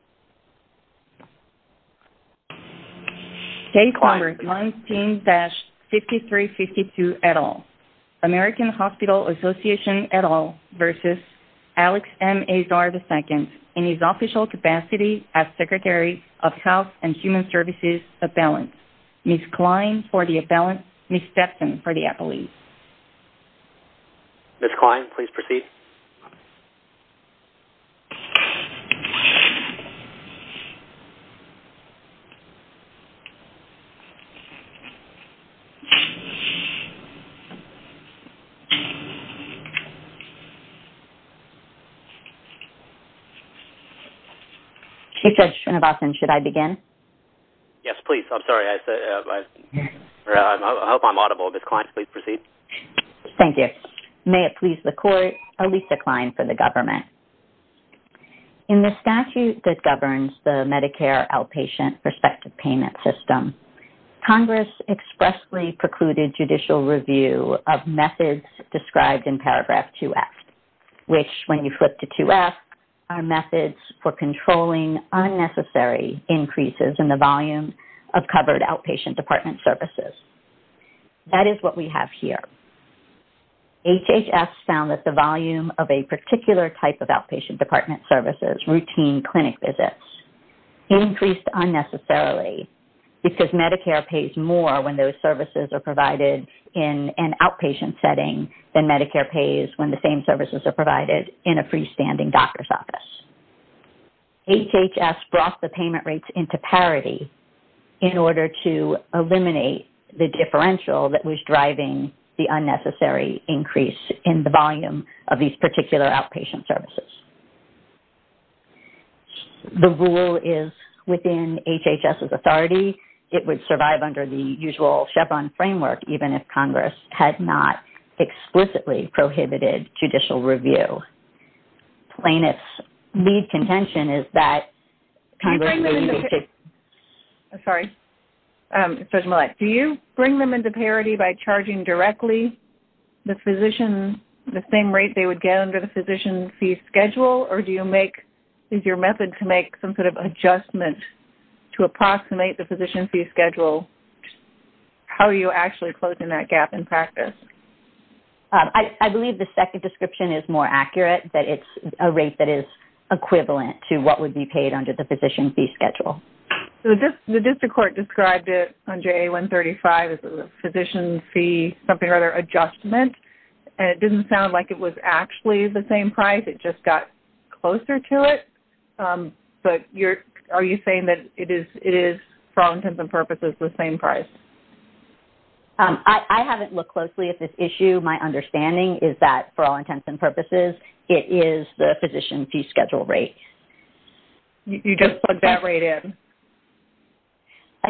of Balance, Ms. Klein for the Appellant, Ms. Stepkin for the Appellant. Ms. Klein, please proceed. Ms. Klein, should I begin? Yes, please. I'm sorry. I hope I'm audible. Ms. Klein, please proceed. Thank you. May it please the Court, Alisa Klein for the Government. In the statute that governs the Medicare outpatient perspective payment system, Congress expressly precluded judicial review of methods described in paragraph 2F, which when you flip to 2F are methods for controlling unnecessary increases in the volume of covered outpatient department services. That is what we have here. HHS found that the volume of a particular type of outpatient department services, routine clinic visits, increased unnecessarily because Medicare pays more when those services are provided in an outpatient setting than Medicare pays when the same services are provided in a freestanding doctor's office. HHS brought the payment rates into parity in order to eliminate the differential that was driving the unnecessary increase in the volume of these particular outpatient services. The rule is within HHS's authority. It would survive under the usual Chevron framework even if Congress had not explicitly prohibited judicial review. Plaintiff's lead contention is that Congress... Sorry. Do you bring them into parity by charging directly the same rate they would get under the physician fee schedule, or is your method to make some sort of adjustment to approximate the physician fee schedule? How are you actually closing that gap in practice? I believe the second description is more accurate, that it's a rate that is equivalent to what would be paid under the physician fee schedule. The district court described it under A135 as a physician fee adjustment, and it didn't sound like it was actually the same price. It just got closer to it, but are you saying that it is, for all intents and purposes, the same price? I haven't looked closely at this issue. My understanding is that, for all intents and purposes, it is the physician fee schedule rate. You just plugged that rate in?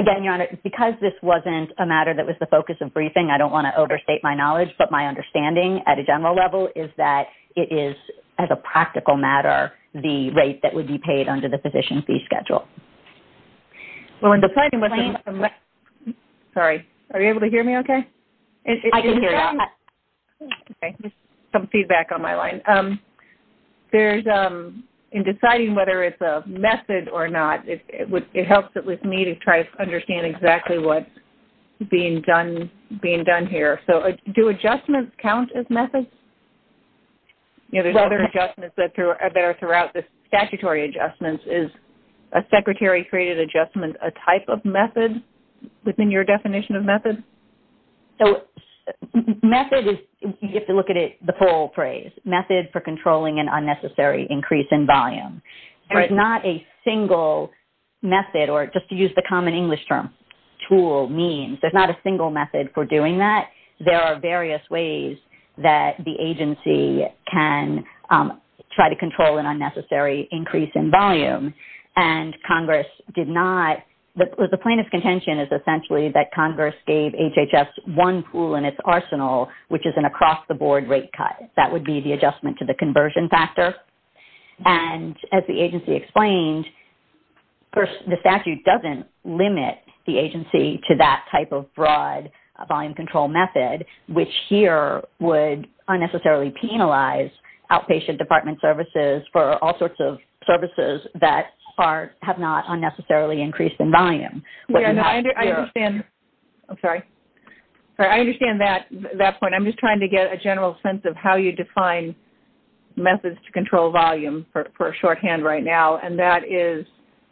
Again, Your Honor, because this wasn't a matter that was the focus of briefing, I don't want to overstate my knowledge, but my understanding at a general level is that it is, as a practical matter, the rate that would be paid under the physician fee schedule. In deciding whether it's a method or not, it helps me to try to understand exactly what's being done here. Do adjustments count as methods? There's other adjustments that are there throughout the statutory adjustments. Is a secretary-created adjustment a type of method within your definition of method? Method is, you have to look at it, the full phrase, method for controlling an unnecessary increase in volume. There's not a single method, or just to use the common English term, tool, means. There's not a single method for doing that. There are various ways that the agency can try to control an unnecessary increase in volume. The point of contention is essentially that Congress gave HHS one pool in its arsenal, which is an across-the-board rate cut. That would be the adjustment to the conversion factor. As the agency explained, the statute doesn't limit the agency to that type of broad volume control method, which here would unnecessarily penalize outpatient department services for all sorts of services that have not unnecessarily increased in volume. I understand that point. I'm just trying to get a general sense of how you define methods to control volume for shorthand right now.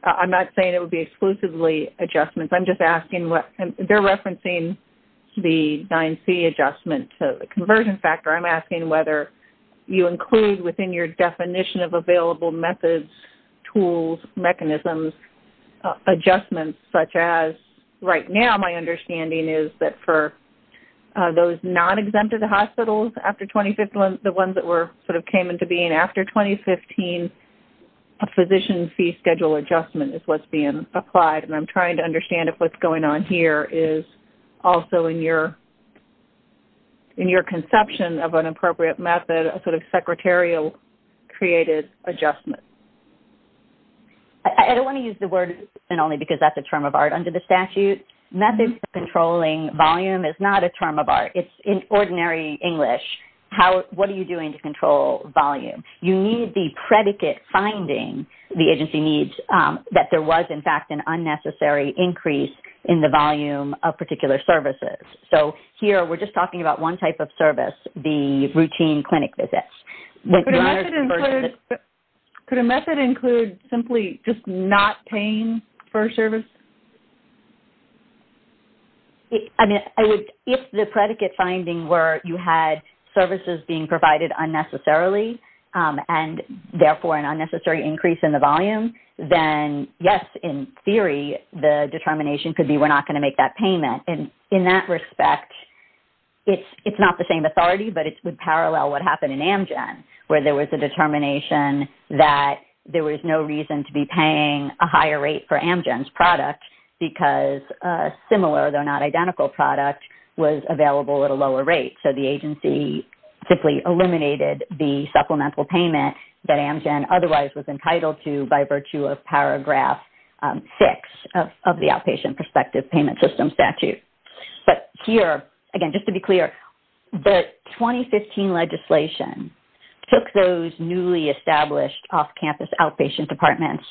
I'm not saying it would be exclusively adjustments. They're referencing the 9C adjustment to the conversion factor. I'm asking whether you include within your definition of available methods, tools, mechanisms, adjustments, such as right now my understanding is that for those non-exempted hospitals after 2015, the ones that came into being after 2015, a physician fee schedule adjustment is what's being applied. I'm trying to understand if what's going on here is also in your conception of an appropriate method, a sort of secretarial created adjustment. I don't want to use the word only because that's a term of art. Under the statute, methods for controlling volume is not a term of art. It's in ordinary English. What are you doing to control volume? You need the predicate finding the agency needs that there was, in fact, an unnecessary increase in the volume of particular services. So here we're just talking about one type of service, the routine clinic visits. Could a method include simply just not paying for a service? If the predicate finding were you had services being provided unnecessarily and, therefore, an unnecessary increase in the volume, then, yes, in theory, the determination could be we're not going to make that payment. In that respect, it's not the same authority, but it would parallel what happened in Amgen, where there was a determination that there was no reason to be paying a higher rate for Amgen's products. Because a similar, though not identical, product was available at a lower rate. So the agency simply eliminated the supplemental payment that Amgen otherwise was entitled to by virtue of Paragraph 6 of the Outpatient Prospective Payment System statute. But here, again, just to be clear, the 2015 legislation took those newly established off-campus outpatient departments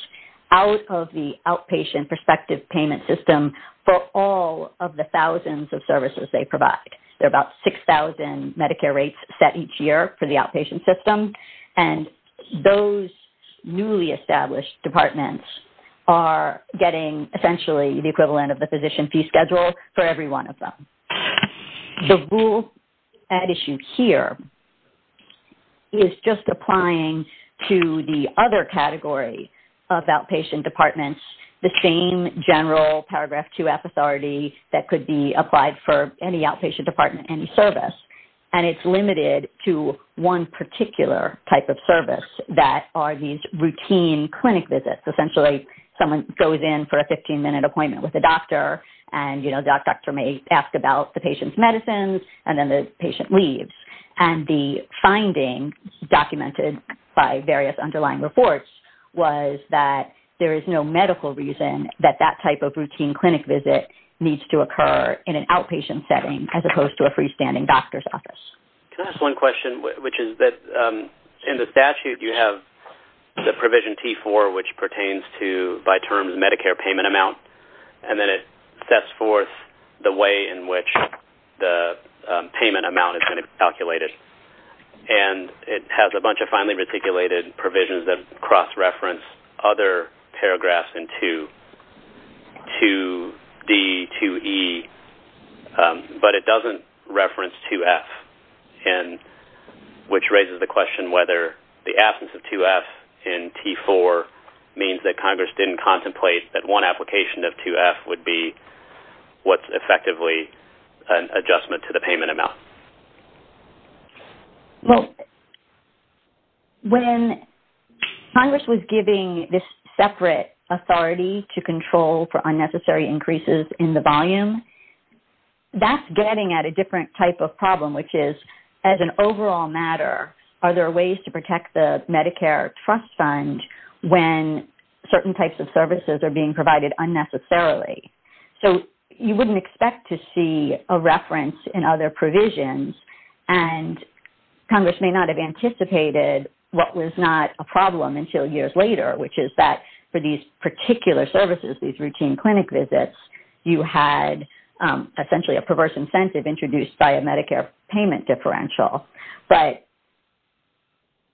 out of the Outpatient Prospective Payment System for all of the thousands of services they provide. There are about 6,000 Medicare rates set each year for the outpatient system. And those newly established departments are getting, essentially, the equivalent of the physician fee schedule for every one of them. The rule at issue here is just applying to the other category of outpatient departments the same general Paragraph 2F authority that could be applied for any outpatient department, any service. And it's limited to one particular type of service that are these routine clinic visits. Essentially, someone goes in for a 15-minute appointment with a doctor, and that doctor may ask about the patient's medicines, and then the patient leaves. And the finding documented by various underlying reports was that there is no medical reason that that type of routine clinic visit needs to occur in an outpatient setting as opposed to a freestanding doctor's office. Can I ask one question, which is that in the statute you have the Provision T4, which pertains to, by terms, Medicare payment amount. And then it sets forth the way in which the payment amount is going to be calculated. And it has a bunch of finely reticulated provisions that cross-reference other paragraphs in 2D, 2E, but it doesn't reference 2F, which raises the question whether the absence of 2F in T4 means that Congress didn't contemplate that one application of 2F would be what's effectively an adjustment to the payment amount. Well, when Congress was giving this separate authority to control for unnecessary increases in the volume, that's getting at a different type of problem, which is, as an overall matter, are there ways to protect the Medicare trust fund when certain types of services are being provided unnecessarily? So you wouldn't expect to see a reference in other provisions, and Congress may not have anticipated what was not a problem until years later, which is that for these particular services, these routine clinic visits, you had essentially a perverse incentive introduced by a Medicare payment differential. But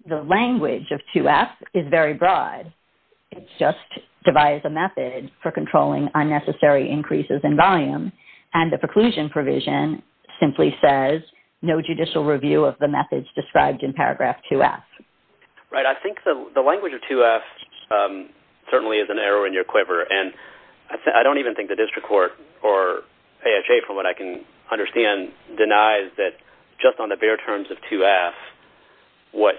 the language of 2F is very broad. It just devised a method for controlling unnecessary increases in volume, and the preclusion provision simply says, no judicial review of the methods described in paragraph 2F. Right. I think the language of 2F certainly is an error in your quiver, and I don't even think the district court or AHA, from what I can understand, denies that just on the bare terms of 2F, what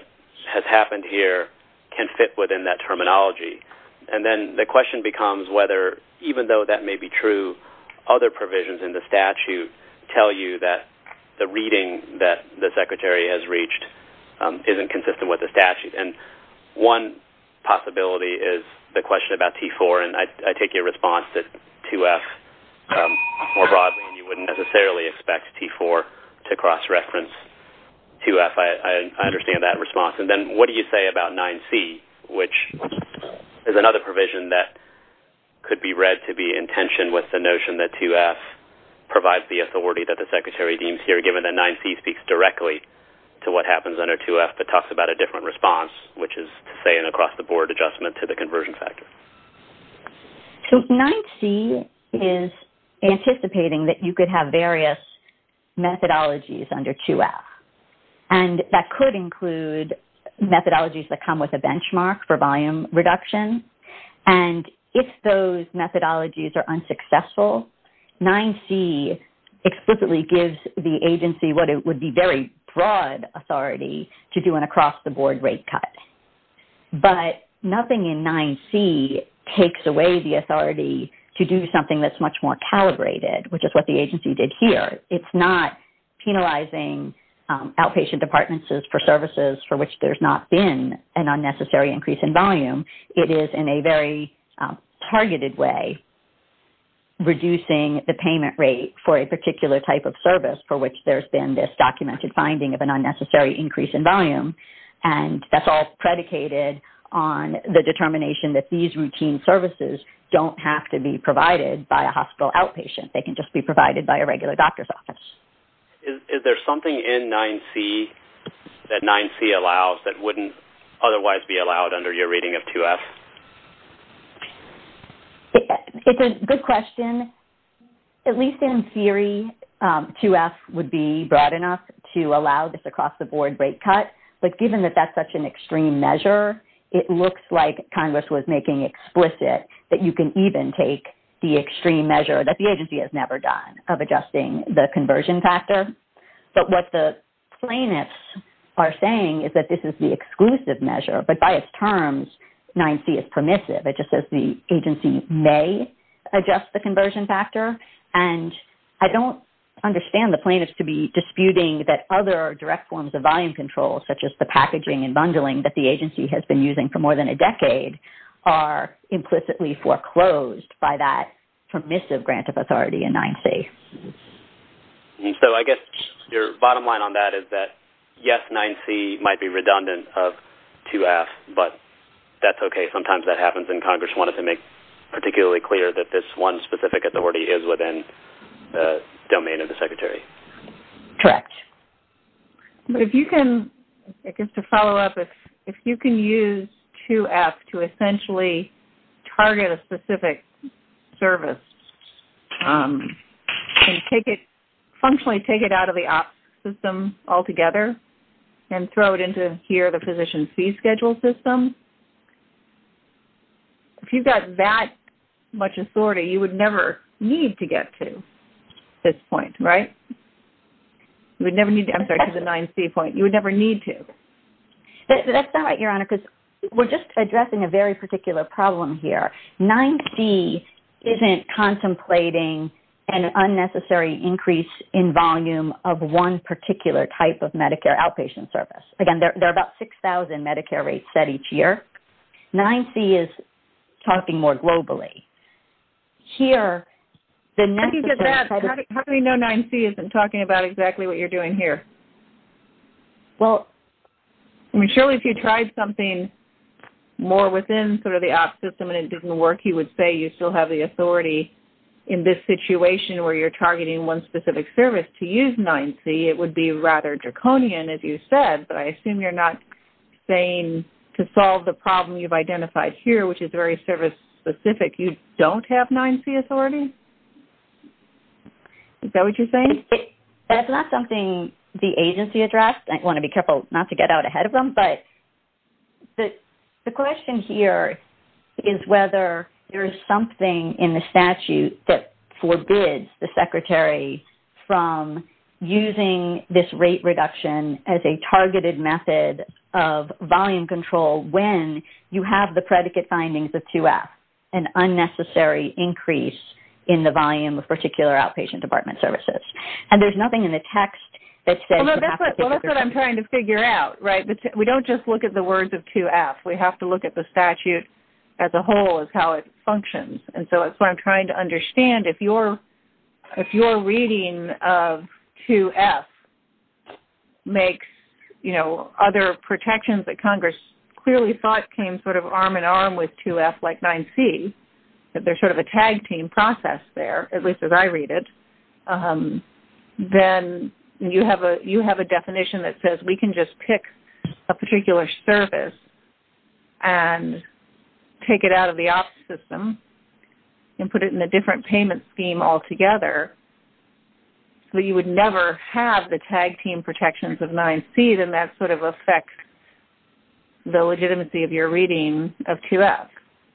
has happened here can fit within that terminology. And then the question becomes whether, even though that may be true, other provisions in the statute tell you that the reading that the secretary has reached isn't consistent with the statute. And one possibility is the question about T4, and I take your response to 2F more broadly, and you wouldn't necessarily expect T4 to cross-reference 2F. I understand that response. And then what do you say about 9C, which is another provision that could be read to be in tension with the notion that 2F provides the authority that the secretary deems here, given that 9C speaks directly to what happens under 2F, but talks about a different response, which is to say an across-the-board adjustment to the conversion factor. So 9C is anticipating that you could have various methodologies under 2F. And that could include methodologies that come with a benchmark for volume reduction. And if those methodologies are unsuccessful, 9C explicitly gives the agency what would be very broad authority to do an across-the-board rate cut. But nothing in 9C takes away the authority to do something that's much more calibrated, which is what the agency did here. It's not penalizing outpatient departments for services for which there's not been an unnecessary increase in volume. It is, in a very targeted way, reducing the payment rate for a particular type of service for which there's been this documented finding of an unnecessary increase in volume. And that's all predicated on the determination that these routine services don't have to be provided by a hospital outpatient. They can just be provided by a regular doctor's office. Is there something in 9C that 9C allows that wouldn't otherwise be allowed under your reading of 2F? It's a good question. At least in theory, 2F would be broad enough to allow this across-the-board rate cut. But given that that's such an extreme measure, it looks like Congress was making explicit that you can even take the extreme measure that the agency has never done of adjusting the conversion factor. But what the plaintiffs are saying is that this is the exclusive measure, but by its terms, 9C is permissive. It just says the agency may adjust the conversion factor. And I don't understand the plaintiffs to be disputing that other direct forms of volume control, such as the packaging and bundling, that the agency has been using for more than a decade, are implicitly foreclosed by that permissive grant of authority in 9C. So I guess your bottom line on that is that, yes, 9C might be redundant of 2F, but that's okay. Sometimes that happens, and Congress wanted to make it particularly clear that this one specific authority is within the domain of the Secretary. Correct. But if you can, just to follow up, if you can use 2F to essentially target a specific service and functionally take it out of the OPS system altogether and throw it into here, the Physician Fee Schedule system, if you've got that much authority, you would never need to get to this point, right? You would never need to get to the 9C point. You would never need to. That's not right, Your Honor, because we're just addressing a very particular problem here. 9C isn't contemplating an unnecessary increase in volume of one particular type of Medicare outpatient service. Again, there are about 6,000 Medicare rates set each year. 9C is talking more globally. I can get that. How do we know 9C isn't talking about exactly what you're doing here? Well, surely if you tried something more within sort of the OPS system and it didn't work, you would say you still have the authority in this situation where you're targeting one specific service to use 9C. It would be rather draconian, as you said, but I assume you're not saying to solve the problem you've identified here, which is very service-specific, you don't have 9C authority? Is that what you're saying? That's not something the agency addressed. I want to be careful not to get out ahead of them, but the question here is whether there's something in the statute that forbids the Secretary from using this rate reduction as a targeted method of volume control when you have the predicate findings of 2F, an unnecessary increase in the volume of particular outpatient department services. And there's nothing in the text that says you have to figure this out. That's what I'm trying to figure out, right? We don't just look at the words of 2F. We have to look at the statute as a whole as how it functions. And so that's what I'm trying to understand. If your reading of 2F makes other protections that Congress clearly thought came sort of arm-in-arm with 2F, like 9C, that there's sort of a tag-team process there, at least as I read it, then you have a definition that says we can just pick a particular service and take it out of the office system and put it in a different payment scheme altogether, so you would never have the tag-team protections of 9C, then that sort of affects the legitimacy of your reading of 2F.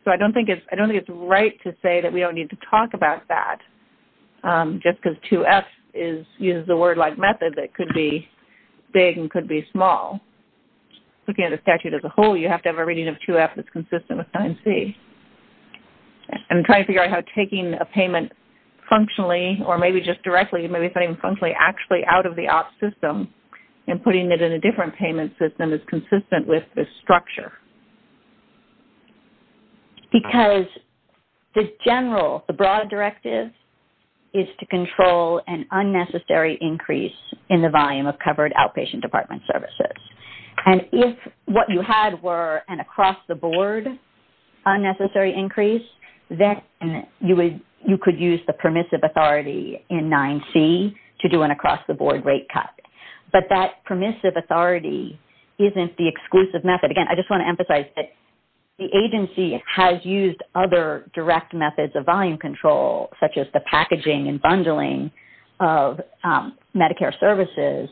So I don't think it's right to say that we don't need to talk about that just because 2F uses the word-like method that could be big and could be small. Looking at the statute as a whole, you have to have a reading of 2F that's consistent with 9C. I'm trying to figure out how taking a payment functionally, or maybe just directly, you may be saying functionally, actually out of the office system and putting it in a different payment system is consistent with this structure. Because the general, the broad directive is to control an unnecessary increase in the volume of covered outpatient department services. And if what you had were an across-the-board unnecessary increase, then you could use the permissive authority in 9C to do an across-the-board rate cut. But that permissive authority isn't the exclusive method. Again, I just want to emphasize that the agency has used other direct methods of volume control, such as the packaging and bundling of Medicare services.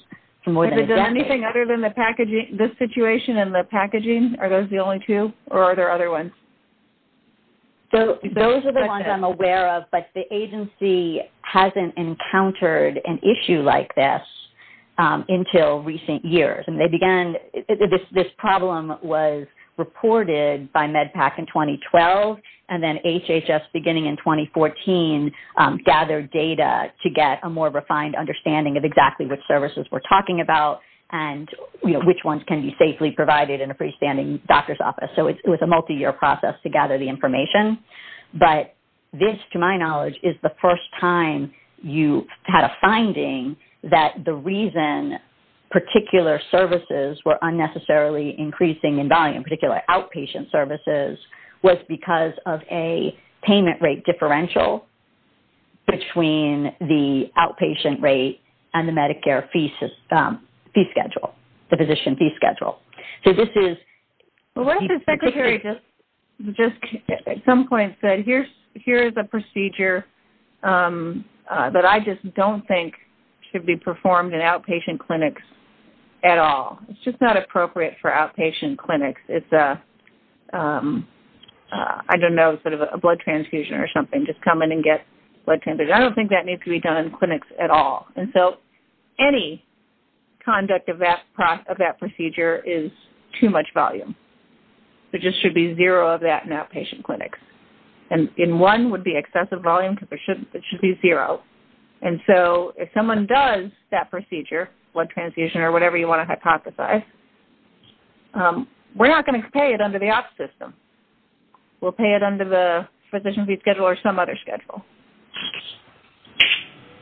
Is there anything other than this situation and the packaging? Are those the only two, or are there other ones? Those are the ones I'm aware of. But the agency hasn't encountered an issue like this until recent years. This problem was reported by MedPAC in 2012, and then HHS, beginning in 2014, gathered data to get a more refined understanding of exactly what services we're talking about and which ones can be safely provided in a pre-standing doctor's office. So it was a multi-year process to gather the information. But this, to my knowledge, is the first time you had a finding that the reason particular services were unnecessarily increasing in volume, particularly outpatient services, was because of a payment rate differential between the outpatient rate and the Medicare fee schedule, the physician fee schedule. So this is... Well, what if the Secretary just at some point said, here's a procedure that I just don't think should be performed in outpatient clinics at all. It's just not appropriate for outpatient clinics. It's a, I don't know, sort of a blood transfusion or something, just come in and get blood transfused. I don't think that needs to be done in clinics at all. And so any conduct of that procedure is too much volume. There just should be zero of that in outpatient clinics. And one would be excessive volume because it should be zero. And so if someone does that procedure, blood transfusion or whatever you want to hypothesize, we're not going to pay it under the OPS system. We'll pay it under the physician fee schedule or some other schedule.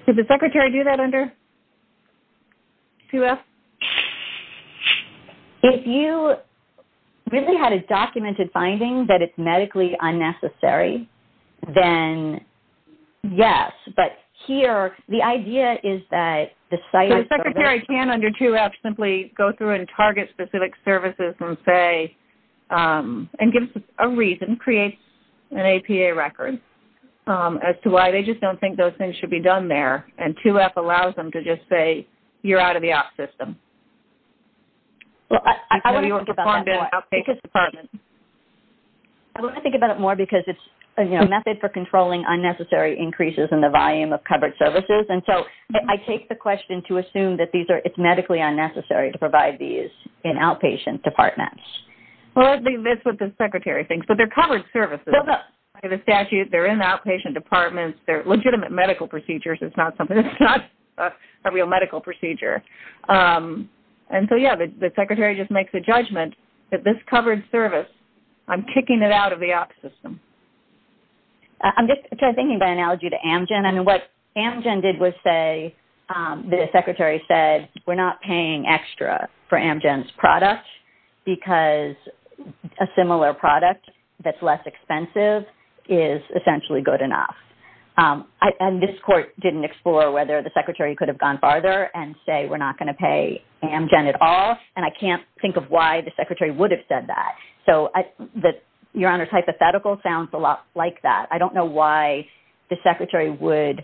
Did the Secretary do that under QF? If you really had a documented finding that it's medically unnecessary, then yes. But here, the idea is that the site... The Secretary can, under QF, simply go through and target specific services and say, and give a reason, create an APA record as to why they just don't think those things should be done there. And QF allows them to just say, you're out of the OPS system. I want to think about it more because it's a method for controlling unnecessary increases in the volume of covered services. And so I take the question to assume that it's medically unnecessary to provide these in outpatient departments. Well, that's what the Secretary thinks. But they're covered services. They're in outpatient departments. They're legitimate medical procedures. It's not a real medical procedure. And so, yeah, the Secretary just makes a judgment that this covered service, I'm kicking it out of the OPS system. I'm just thinking by analogy to Amgen. And what Amgen did was say, the Secretary said, we're not paying extra for Amgen's product because a similar product that's less expensive is essentially good enough. And this court didn't explore whether the Secretary could have gone farther and say we're not going to pay Amgen at all. And I can't think of why the Secretary would have said that. So Your Honor's hypothetical sounds a lot like that. I don't know why the Secretary would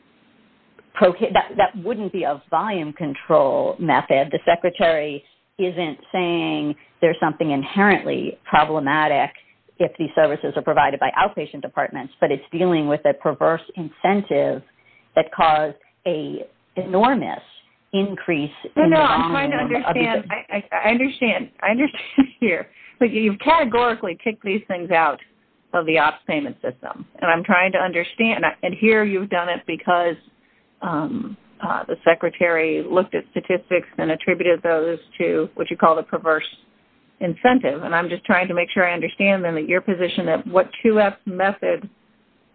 – that wouldn't be a volume control method. The Secretary isn't saying there's something inherently problematic if these services are provided by outpatient departments, but it's dealing with a perverse incentive that caused an enormous increase. No, no, I'm trying to understand. I understand. I understand here. You've categorically kicked these things out of the OPS payment system. And I'm trying to understand. And here you've done it because the Secretary looked at statistics and attributed those to what you call a perverse incentive. And I'm just trying to make sure I understand, then, that your position of what 2F method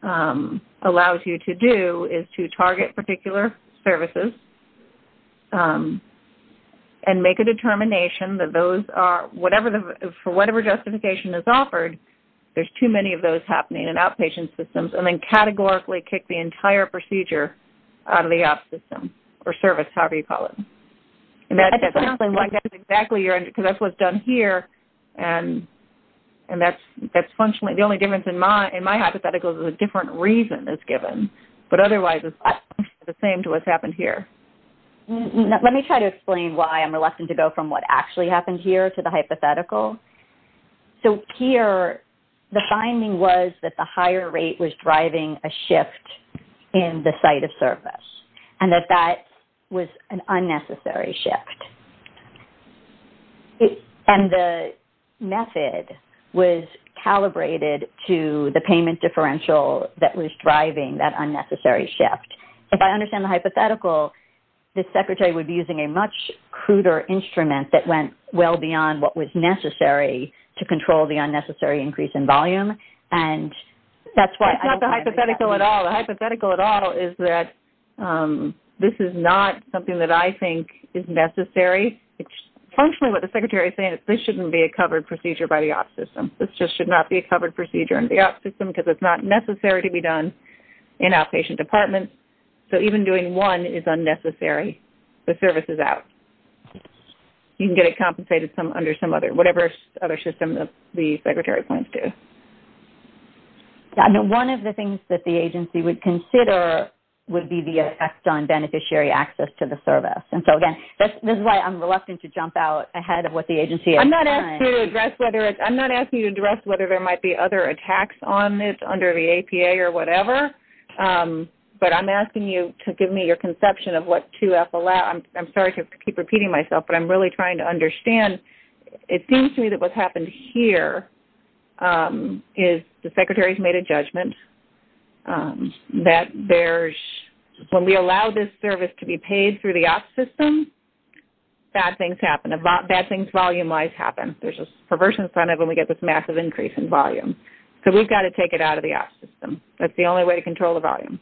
allows you to do is to target particular services and make a determination that those are – for whatever justification is offered, there's too many of those happening in outpatient systems and then categorically kick the entire procedure out of the OPS system or service, however you call it. That's exactly – because that's what's done here, and that's functionally – the only difference in my hypothetical is a different reason is given, but otherwise it's the same to what's happened here. Let me try to explain why I'm reluctant to go from what actually happened here to the hypothetical. So here the finding was that the higher rate was driving a shift in the site of service and that that was an unnecessary shift. And the method was calibrated to the payment differential that was driving that unnecessary shift. If I understand the hypothetical, the Secretary would be using a much cruder instrument that went well beyond what was necessary to control the unnecessary increase in volume. And that's why – That's not the hypothetical at all. No, the hypothetical at all is that this is not something that I think is necessary. It's functionally what the Secretary is saying, this shouldn't be a covered procedure by the OPS system. This just should not be a covered procedure in the OPS system because it's not necessary to be done in outpatient departments. So even doing one is unnecessary. The service is out. You can get it compensated under some other – whatever other system that the Secretary points to. One of the things that the agency would consider would be the effect on beneficiary access to the service. And so, again, this is why I'm reluctant to jump out ahead of what the agency is saying. I'm not asking you to address whether there might be other attacks on this under the APA or whatever, but I'm asking you to give me your conception of what 2F allows. I'm sorry to keep repeating myself, but I'm really trying to understand. It seems to me that what's happened here is the Secretary's made a judgment that when we allow this service to be paid through the OPS system, bad things happen. Bad things volume-wise happen. There's a perversion incentive when we get this massive increase in volume. So we've got to take it out of the OPS system. That's the only way to control the volume.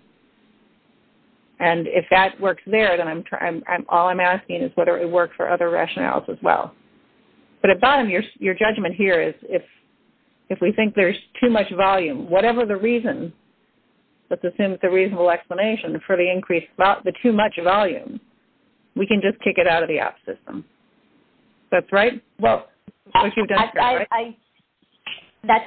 And if that works there, then all I'm asking is whether it works for other rationales as well. But at the bottom, your judgment here is if we think there's too much volume, whatever the reason, let's assume it's a reasonable explanation for the increase, the too much volume, we can just take it out of the OPS system. That's right? That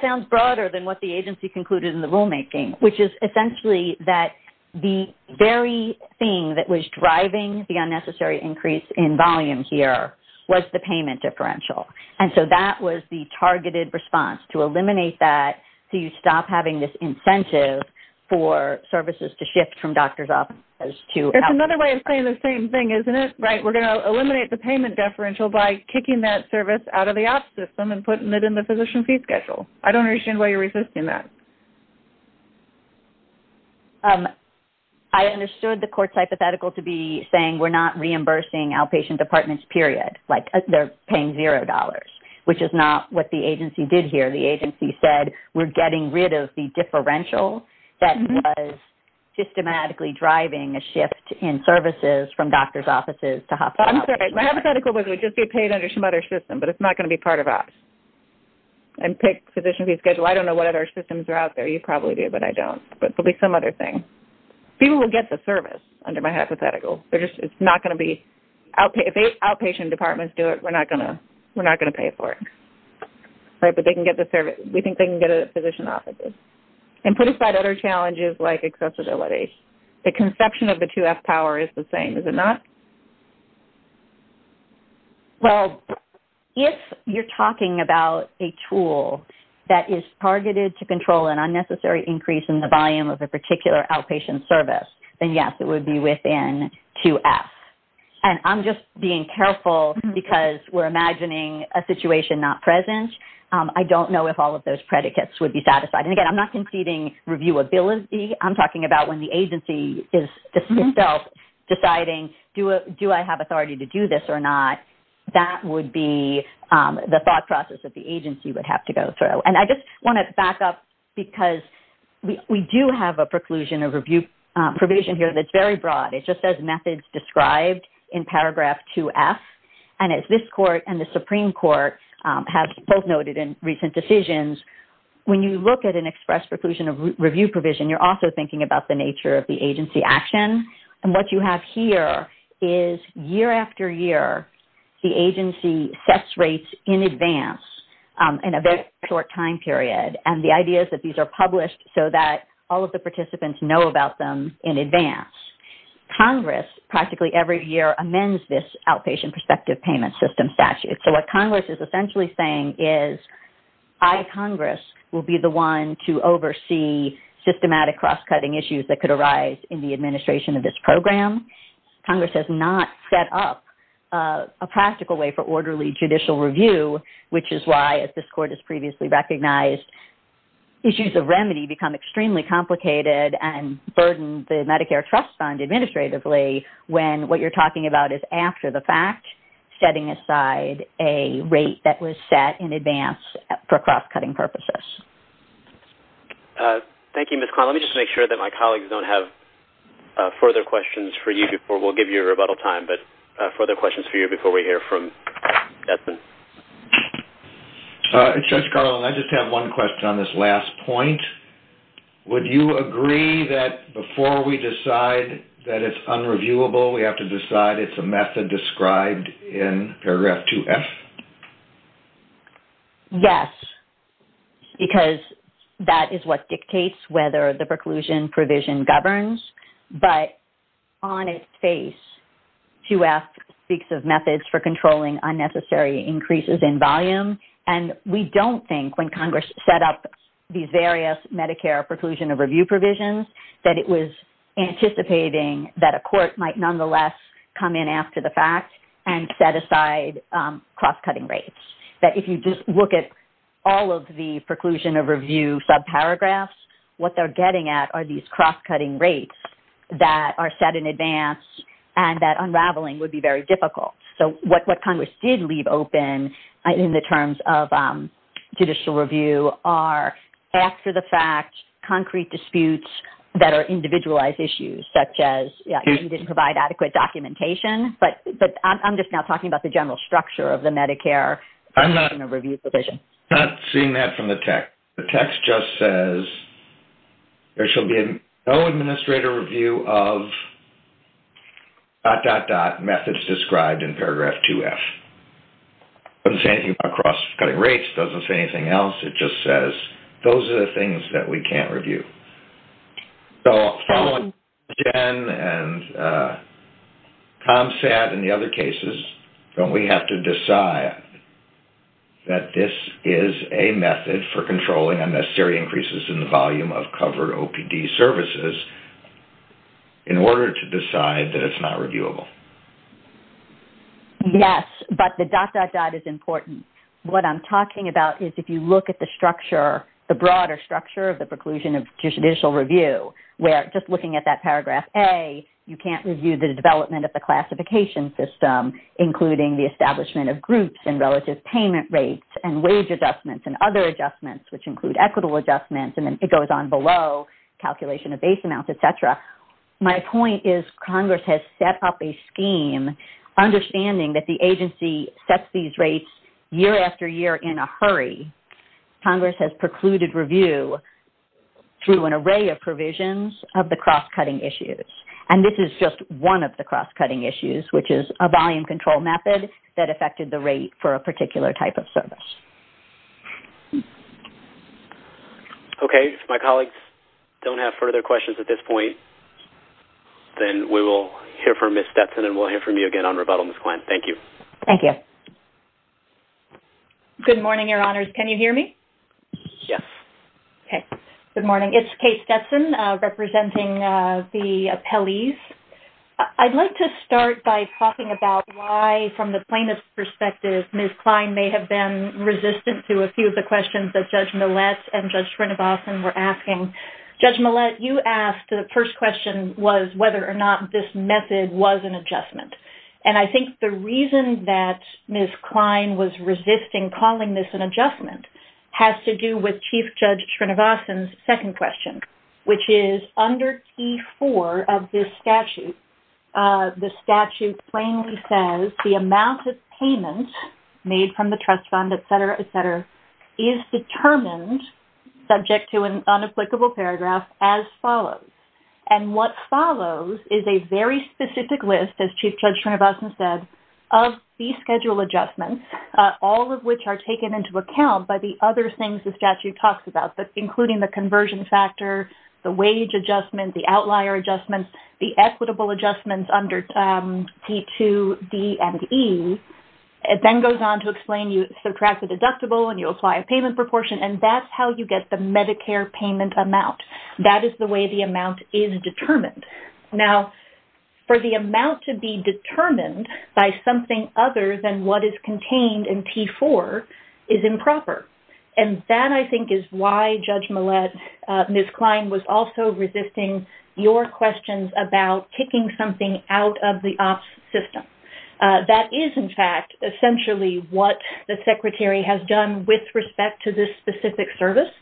sounds broader than what the agency concluded in the rulemaking, which is essentially that the very thing that was driving the unnecessary increase in volume here was the payment differential. And so that was the targeted response to eliminate that so you stop having this incentive for services to shift from doctor's offices to OPS. That's another way of saying the same thing, isn't it? We're going to eliminate the payment differential by kicking that service out of the OPS system and putting it in the physician fee schedule. I don't understand why you're resisting that. I understood the court's hypothetical to be saying we're not reimbursing outpatient departments, period, like they're paying $0, which is not what the agency did here. The agency said we're getting rid of the differential that was systematically driving a shift in services from doctor's offices to hospital. I'm sorry. My hypothetical was we'd just get paid under Schmutter's system, but it's not going to be part of OPS and take physician fee schedule. I don't know what other systems are out there. You probably do, but I don't. But it will be some other thing. People will get the service under my hypothetical. It's not going to be outpatient. If outpatient departments do it, we're not going to pay for it. But they can get the service. We think they can get a physician office. And put aside other challenges like accessibility, the conception of the 2F power is the same, is it not? Well, if you're talking about a tool that is targeted to control an unnecessary increase in the volume of a particular outpatient service, then, yes, it would be within 2F. And I'm just being careful because we're imagining a situation not present. I don't know if all of those predicates would be satisfied. And, again, I'm not conceding reviewability. I'm talking about when the agency is itself deciding, do I have authority to do this or not? That would be the thought process that the agency would have to go through. And I just want to back up because we do have a preclusion or review provision here that's very broad. It just says methods described in paragraph 2F. And as this court and the Supreme Court have both noted in recent decisions, when you look at an express preclusion or review provision, you're also thinking about the nature of the agency action. And what you have here is year after year the agency sets rates in advance in a very short time period. And the idea is that these are published so that all of the participants know about them in advance. Congress, practically every year, amends this outpatient prospective payment system statute. So what Congress is essentially saying is I, Congress, will be the one to oversee systematic cross-cutting issues that could arise in the administration of this program. Congress has not set up a practical way for orderly judicial review, which is why, as this court has previously recognized, issues of remedy become extremely complicated and burden the Medicare Trust Fund administratively when what you're talking about is after the fact, setting aside a rate that was set in advance for cross-cutting purposes. Thank you, Ms. Carlin. Let me just make sure that my colleagues don't have further questions for you before we'll give you a rebuttal time, but further questions for you before we hear from Edmond. Judge Carlin, I just have one question on this last point. Would you agree that before we decide that it's unreviewable, we have to decide it's a method described in paragraph 2F? Yes, because that is what dictates whether the preclusion provision governs. But on its face, 2F speaks of methods for controlling unnecessary increases in volume, and we don't think when Congress set up the various Medicare preclusion that it was anticipating that a court might nonetheless come in after the fact and set aside cross-cutting rates, that if you just look at all of the preclusion of review subparagraphs, what they're getting at are these cross-cutting rates that are set in advance and that unraveling would be very difficult. So what Congress did leave open in the terms of judicial review are after-the-fact concrete disputes that are individualized issues, such as you didn't provide adequate documentation, but I'm just now talking about the general structure of the Medicare review provision. I'm not seeing that from the text. The text just says there shall be no administrator review of dot, dot, dot, methods described in paragraph 2F. It doesn't say anything about cross-cutting rates. It doesn't say anything else. It just says those are the things that we can't review. So following Jen and Tom's stat in the other cases, don't we have to decide that this is a method for controlling unnecessary increases in the volume of covered OPD services in order to decide that it's not reviewable? Yes, but the dot, dot, dot is important. What I'm talking about is if you look at the structure, the broader structure of the preclusion of judicial review, where just looking at that paragraph A, you can't review the development of the classification system, including the establishment of groups and relative payment rates and wage adjustments and other adjustments, which include equitable adjustments, and then it goes on below, calculation of base amounts, et cetera. My point is Congress has set up a scheme, understanding that the agency sets these rates year after year in a hurry. Congress has precluded review through an array of provisions of the cross-cutting issues, and this is just one of the cross-cutting issues, which is a volume control method that affected the rate for a particular type of service. Okay. If my colleagues don't have further questions at this point, then we will hear from Ms. Stetson and we'll hear from you again on rebuttal. Ms. Klein, thank you. Thank you. Good morning, Your Honors. Can you hear me? Yes. Okay. Good morning. It's Kate Stetson representing the appellees. I'd like to start by talking about why, from the plaintiff's perspective, Ms. Klein may have been resistant to a few of the questions that Judge Millett and Judge Srinivasan were asking. Judge Millett, you asked the first question was whether or not this method was an adjustment. And I think the reason that Ms. Klein was resisting calling this an adjustment has to do with Chief Judge Srinivasan's second question, which is under T4 of this statute, the statute plainly says the amount of payment made from the trust fund, et cetera, is determined, subject to an unapplicable paragraph, as follows. And what follows is a very specific list, as Chief Judge Srinivasan said, of these schedule adjustments, all of which are taken into account by the other things the statute talks about, including the conversion factor, the wage adjustment, the outlier adjustments, the equitable adjustments under T2, D, and E. It then goes on to explain you subtract the deductible and you apply a payment proportion, and that's how you get the Medicare payment amount. That is the way the amount is determined. Now, for the amount to be determined by something other than what is contained in T4 is improper. And that, I think, is why Judge Millett, Ms. Klein was also resisting your questions about kicking something out of the OPS system. That is, in fact, essentially what the secretary has done with respect to this specific service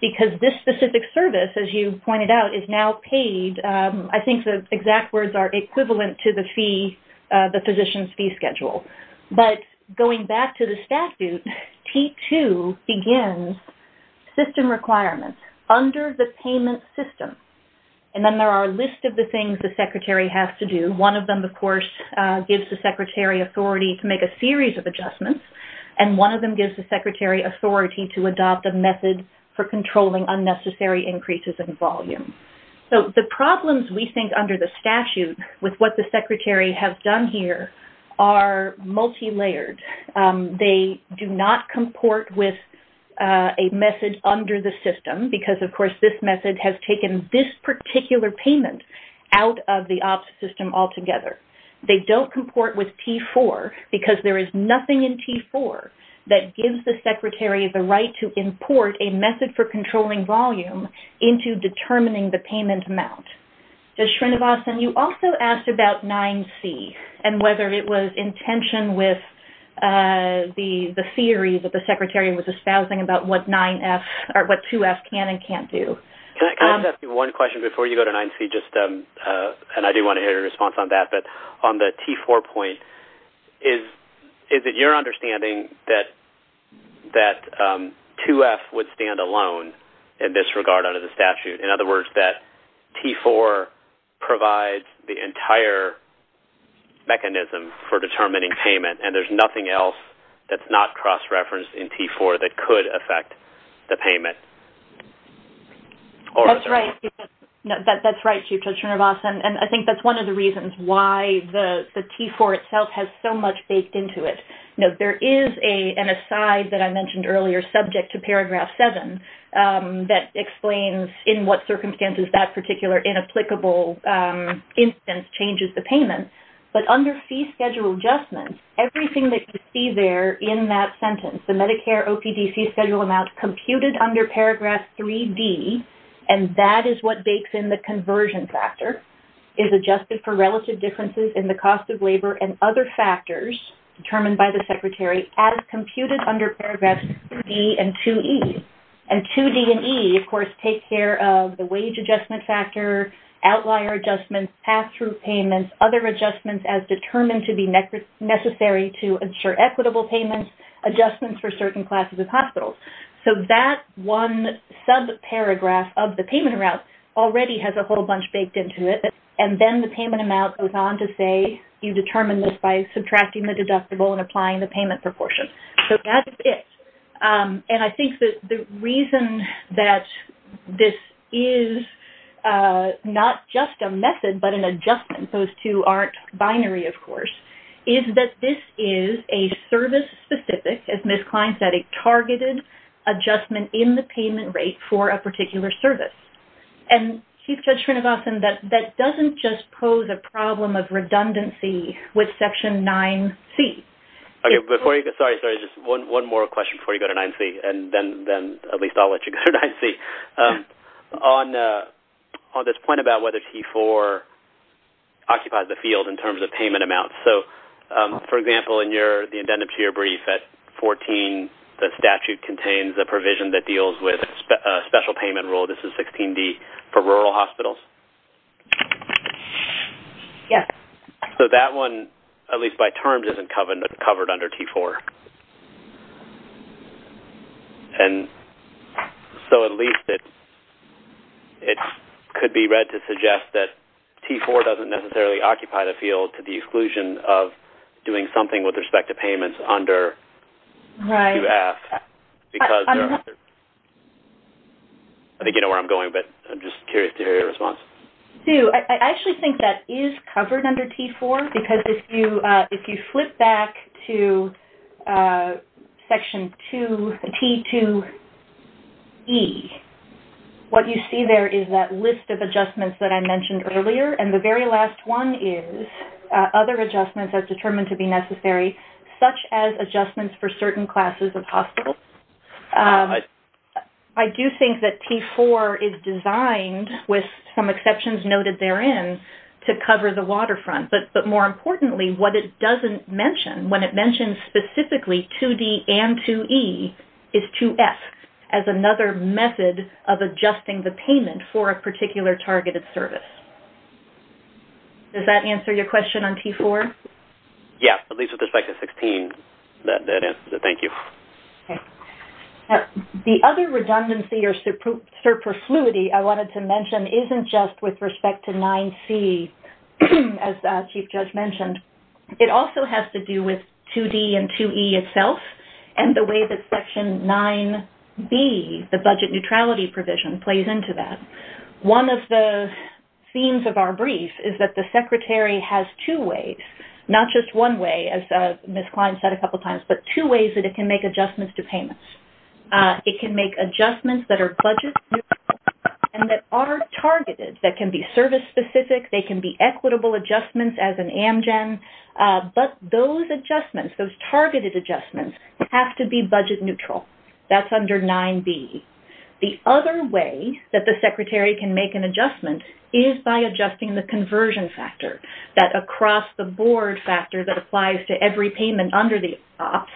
because this specific service, as you pointed out, is now paid. I think the exact words are equivalent to the fee, the physician's fee schedule. But going back to the statute, T2 begins system requirements under the payment system. And then there are a list of the things the secretary has to do. And one of them, of course, gives the secretary authority to make a series of adjustments. And one of them gives the secretary authority to adopt a method for controlling unnecessary increases in volume. So the problems, we think, under the statute with what the secretary has done here are multilayered. They do not comport with a method under the system because, of course, this method has taken this particular payment out of the OPS system altogether. They don't comport with T4 because there is nothing in T4 that gives the secretary the right to import a method for controlling volume into determining the payment amount. Ms. Shrinivasan, you also asked about 9C and whether it was in tension with the theory that the secretary was espousing about what 2F can and can't do. Can I ask you one question before you go to 9C? And I do want to hear your response on that. But on the T4 point, is it your understanding that 2F would stand alone in this regard under the statute? In other words, that T4 provides the entire mechanism for determining payment and there's nothing else that's not cross-referenced in T4 that could affect the payment? That's right, Chief Judge Shrinivasan. And I think that's one of the reasons why the T4 itself has so much baked into it. There is an aside that I mentioned earlier subject to paragraph 7 that explains in what circumstances that particular inapplicable instance changes the payment. But under fee schedule adjustment, everything that you see there in that sentence, the Medicare OPD fee schedule amount computed under paragraph 3D, and that is what bakes in the conversion factor, is adjusted for relative differences in the cost of labor and other factors determined by the secretary as computed under paragraph 3D and 2E. And 2D and E, of course, take care of the wage adjustment factor, outlier adjustments, pass-through payments, other adjustments as determined to be necessary to ensure equitable payments, adjustments for certain classes of hospitals. So that one subparagraph of the payment route already has a whole bunch baked into it and then the payment amount goes on to say you determine this by subtracting the deductible and applying the payment proportion. So that's it. And I think that the reason that this is not just a method but an adjustment, those two aren't binary, of course, is that this is a service-specific, as Ms. Klein said, a targeted adjustment in the payment rate for a particular service. And Chief Judge Kronosoff, that doesn't just pose a problem of redundancy with section 9C. Sorry, just one more question before you go to 9C, and then at least I'll let you go to 9C. On this point about whether T4 occupies the field in terms of payment amounts, so, for example, in the indented tier brief at 14, the statute contains a provision that deals with special payment rule. This is 16D for rural hospitals. Yes. So that one, at least by terms, isn't covered under T4. And so at least it could be read to suggest that T4 doesn't necessarily occupy the field to the exclusion of doing something with respect to payments under QF because... I think you know where I'm going, but I'm just curious to hear your response. I actually think that is covered under T4 because if you flip back to section T2E, what you see there is that list of adjustments that I mentioned earlier, and the very last one is other adjustments that are determined to be necessary, such as adjustments for certain classes of hospitals. I do think that T4 is designed, with some exceptions noted therein, to cover the waterfront, but more importantly, what it doesn't mention, when it mentions specifically 2D and 2E, is 2F as another method of adjusting the payment for a particular targeted service. Does that answer your question on T4? Yes, at least with respect to 16, that answers it. Thank you. Okay. The other redundancy or superfluity I wanted to mention isn't just with respect to 9C, as Chief Judge mentioned. It also has to do with 2D and 2E itself and the way that section 9B, the budget neutrality provision, plays into that. One of the themes of our brief is that the Secretary has two ways, not just one way, as Ms. Klein said a couple times, but two ways that it can make adjustments to payments. It can make adjustments that are budget-neutral and that are targeted, that can be service-specific, they can be equitable adjustments as an Amgen, but those adjustments, those targeted adjustments, have to be budget-neutral. That's under 9B. The other way that the Secretary can make an adjustment is by adjusting the conversion factor, that across-the-board factor that applies to every payment under the OPS.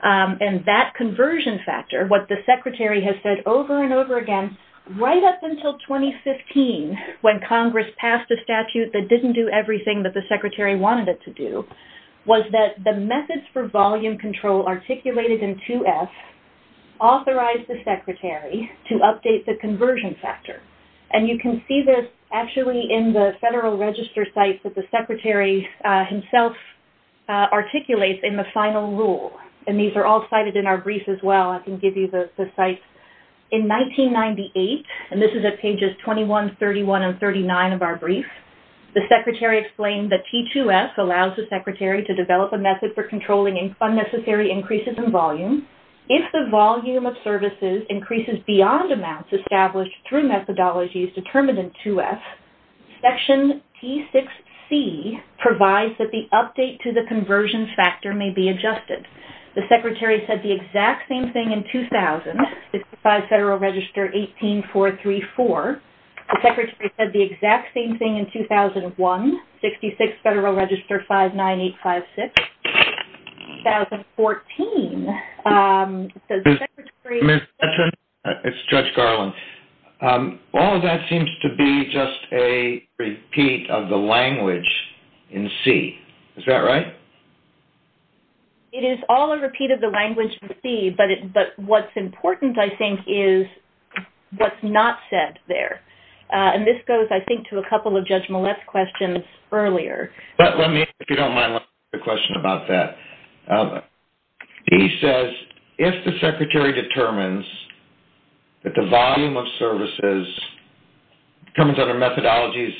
And that conversion factor, what the Secretary has said over and over again, right up until 2015 when Congress passed a statute that didn't do everything that the Secretary wanted it to do, was that the methods for volume control articulated in 2F authorized the Secretary to update the conversion factor. And you can see this actually in the Federal Register sites that the Secretary himself articulates in the final rule. And these are all cited in our brief as well. I can give you the sites. In 1998, and this is at pages 21, 31, and 39 of our brief, the Secretary explained that T2F allows the Secretary to develop a method for controlling unnecessary increases in volume. In addition, if the volume of services increases beyond amounts established through methodologies determined in 2F, Section T6C provides that the update to the conversion factor may be adjusted. The Secretary said the exact same thing in 2000, 65 Federal Register 18434. The Secretary said the exact same thing in 2001, 66 Federal Register 59856. In 2014, the Secretary... Ms. Stetron, it's Judge Garland. All of that seems to be just a repeat of the language in C. Is that right? It is all a repeat of the language in C, but what's important, I think, is what's not said there. And this goes, I think, to a couple of Judge Millett's questions earlier. But let me, if you don't mind, ask a question about that. He says, if the Secretary determines that the volume of services comes under methodologies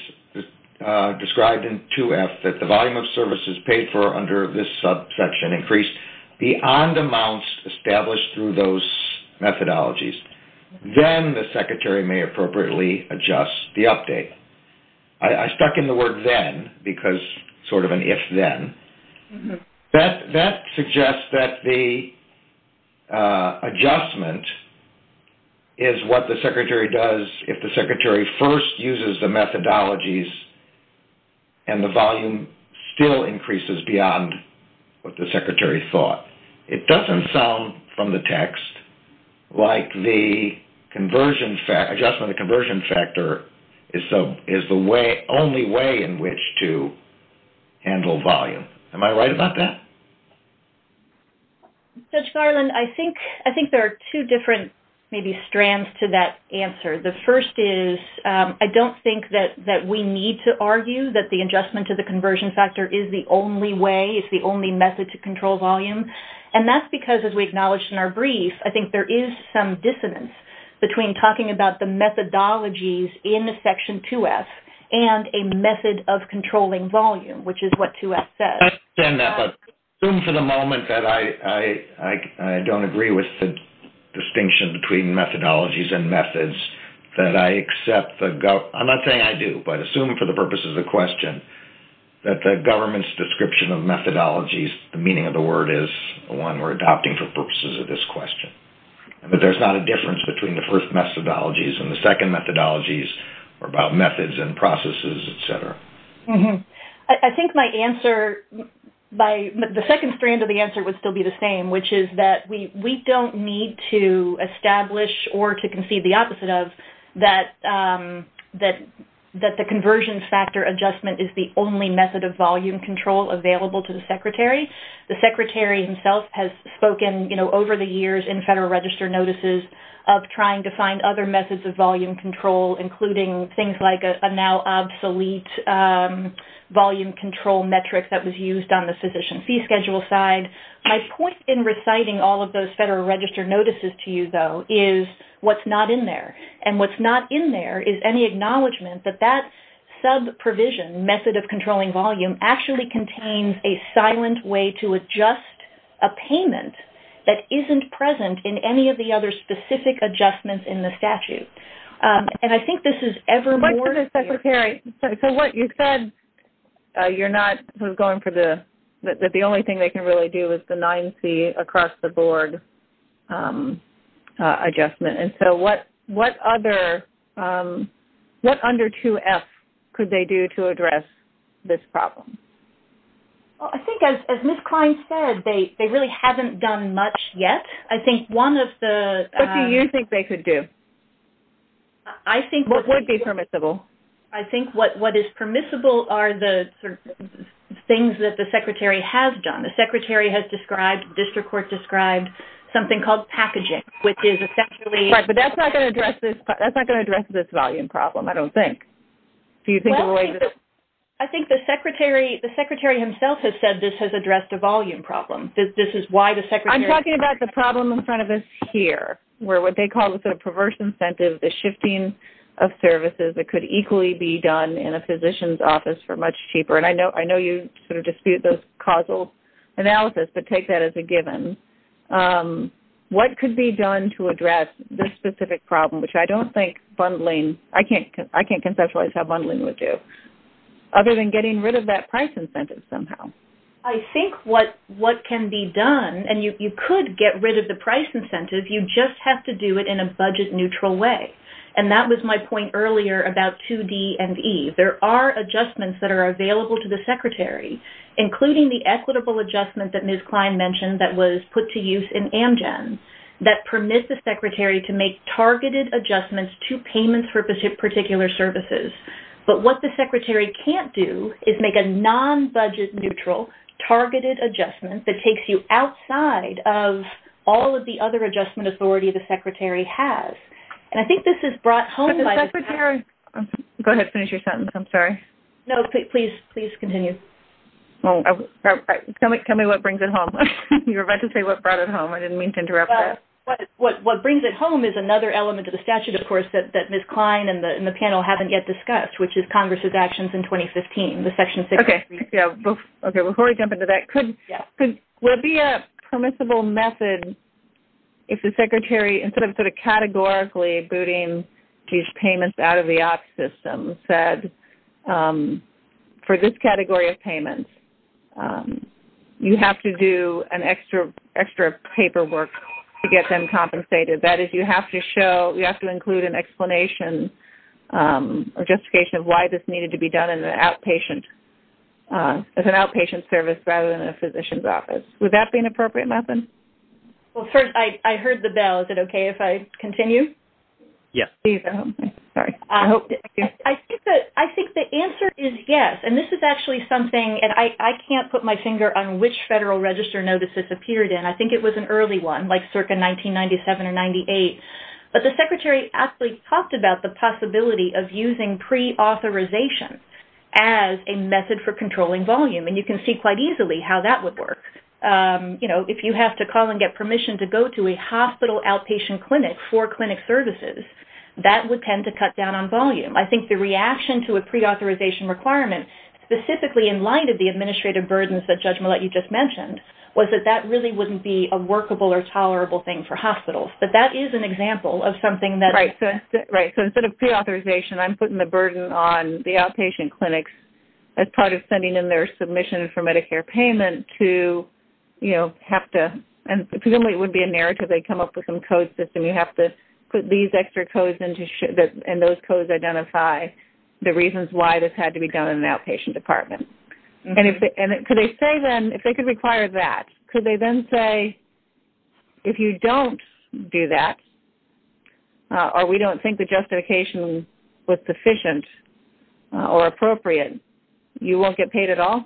described in 2F, that the volume of services paid for under this subsection increase beyond amounts established through those methodologies, then the Secretary may appropriately adjust the update. I stuck in the word then because it's sort of an if-then. That suggests that the adjustment is what the Secretary does if the Secretary first uses the methodologies and the volume still increases beyond what the Secretary thought. It doesn't sound from the text like the adjustment to the conversion factor is the only way in which to handle volume. Am I right about that? Judge Garland, I think there are two different strands to that answer. The first is, I don't think that we need to argue that the adjustment to the conversion factor is the only way, is the only method to control volume. And that's because, as we acknowledged in our brief, I think there is some dissonance between talking about the methodologies in the Section 2F and a method of controlling volume, which is what 2F says. I understand that, but assume for the moment that I don't agree with the distinction between methodologies and methods, that I accept the-I'm not saying I do, but assume for the purposes of the question, that the government's description of methodologies, the meaning of the word is one we're adopting for purposes of this question. But there's not a difference between the first methodologies and the second methodologies, or about methods and processes, et cetera. I think my answer-the second strand of the answer would still be the same, which is that we don't need to establish or to concede the opposite of that the conversion factor adjustment is the only method of volume control available to the Secretary. The Secretary himself has spoken, you know, over the years in Federal Register notices of trying to find other methods of volume control, including things like a now obsolete volume control metric that was used on the Physician Fee Schedule side. My point in reciting all of those Federal Register notices to you, though, is what's not in there. And what's not in there is any acknowledgment that that sub-provision, or method of controlling volume, actually contains a silent way to adjust a payment that isn't present in any of the other specific adjustments in the statute. And I think this is ever more- So what you said, you're not going for the-the only thing they can really do is the 9C across-the-board adjustment. And so what other-what under 2F could they do to address this problem? Well, I think as Ms. Klein said, they really haven't done much yet. I think one of the- What do you think they could do? I think- What would be permissible? I think what is permissible are the things that the Secretary has done. The Secretary has described, the District Court described, something called packaging, which is essentially- Right, but that's not going to address this volume problem, I don't think. Do you think- I think the Secretary himself has said this has addressed the volume problem. This is why the Secretary- I'm talking about the problem in front of us here, where what they call the perverse incentive, the shifting of services that could equally be done in a physician's office for much cheaper. but take that as a given. What could be done to address this specific problem, which I don't think bundling- I can't conceptualize how bundling would do, other than getting rid of that price incentive somehow. I think what can be done- and you could get rid of the price incentive, you just have to do it in a budget-neutral way. And that was my point earlier about 2D and E. There are adjustments that are available to the Secretary, including the equitable adjustment that Ms. Klein mentioned that was put to use in Amgen, that permit the Secretary to make targeted adjustments to payments for particular services. But what the Secretary can't do is make a non-budget neutral targeted adjustment that takes you outside of all of the other adjustment authority the Secretary has. And I think this is brought home by- The Secretary- Go ahead, finish your sentence, I'm sorry. No, please continue. Tell me what brings it home. You were about to say what brought it home. I didn't mean to interrupt you. What brings it home is another element of the statute, of course, that Ms. Klein and the panel haven't yet discussed, which is Congress's actions in 2015, the Section 6- Okay, before we jump into that, could there be a permissible method if the Secretary, instead of sort of categorically said, for this category of payments, you have to do an extra paperwork to get them compensated? That is, you have to show, you have to include an explanation or justification of why this needed to be done as an outpatient service rather than a physician's office. Would that be an appropriate method? Well, first, I heard the bell. Is it okay if I continue? Yes. I think the answer is yes. And this is actually something, and I can't put my finger on which Federal Register notice this appeared in. I think it was an early one, like circa 1997 or 98. But the Secretary actually talked about the possibility of using preauthorization as a method for controlling volume. And you can see quite easily how that would work. If you have to call and get permission to go to a hospital outpatient clinic for clinic services, that would tend to cut down on volume. I think the reaction to a preauthorization requirement specifically in light of the administrative burdens that Judge Millett just mentioned was that that really wouldn't be a workable or tolerable thing for hospitals. But that is an example of something that... Right. So instead of preauthorization, I'm putting the burden on the outpatient clinics as part of sending in their submission for Medicare payment to, you know, have to... And presumably it would be a narrative. They come up with some code system. You have to put these extra codes in and those codes identify the reasons why this had to be done by the outpatient department. And could they say then... If they could require that, could they then say, if you don't do that or we don't think the justification was sufficient or appropriate, you won't get paid at all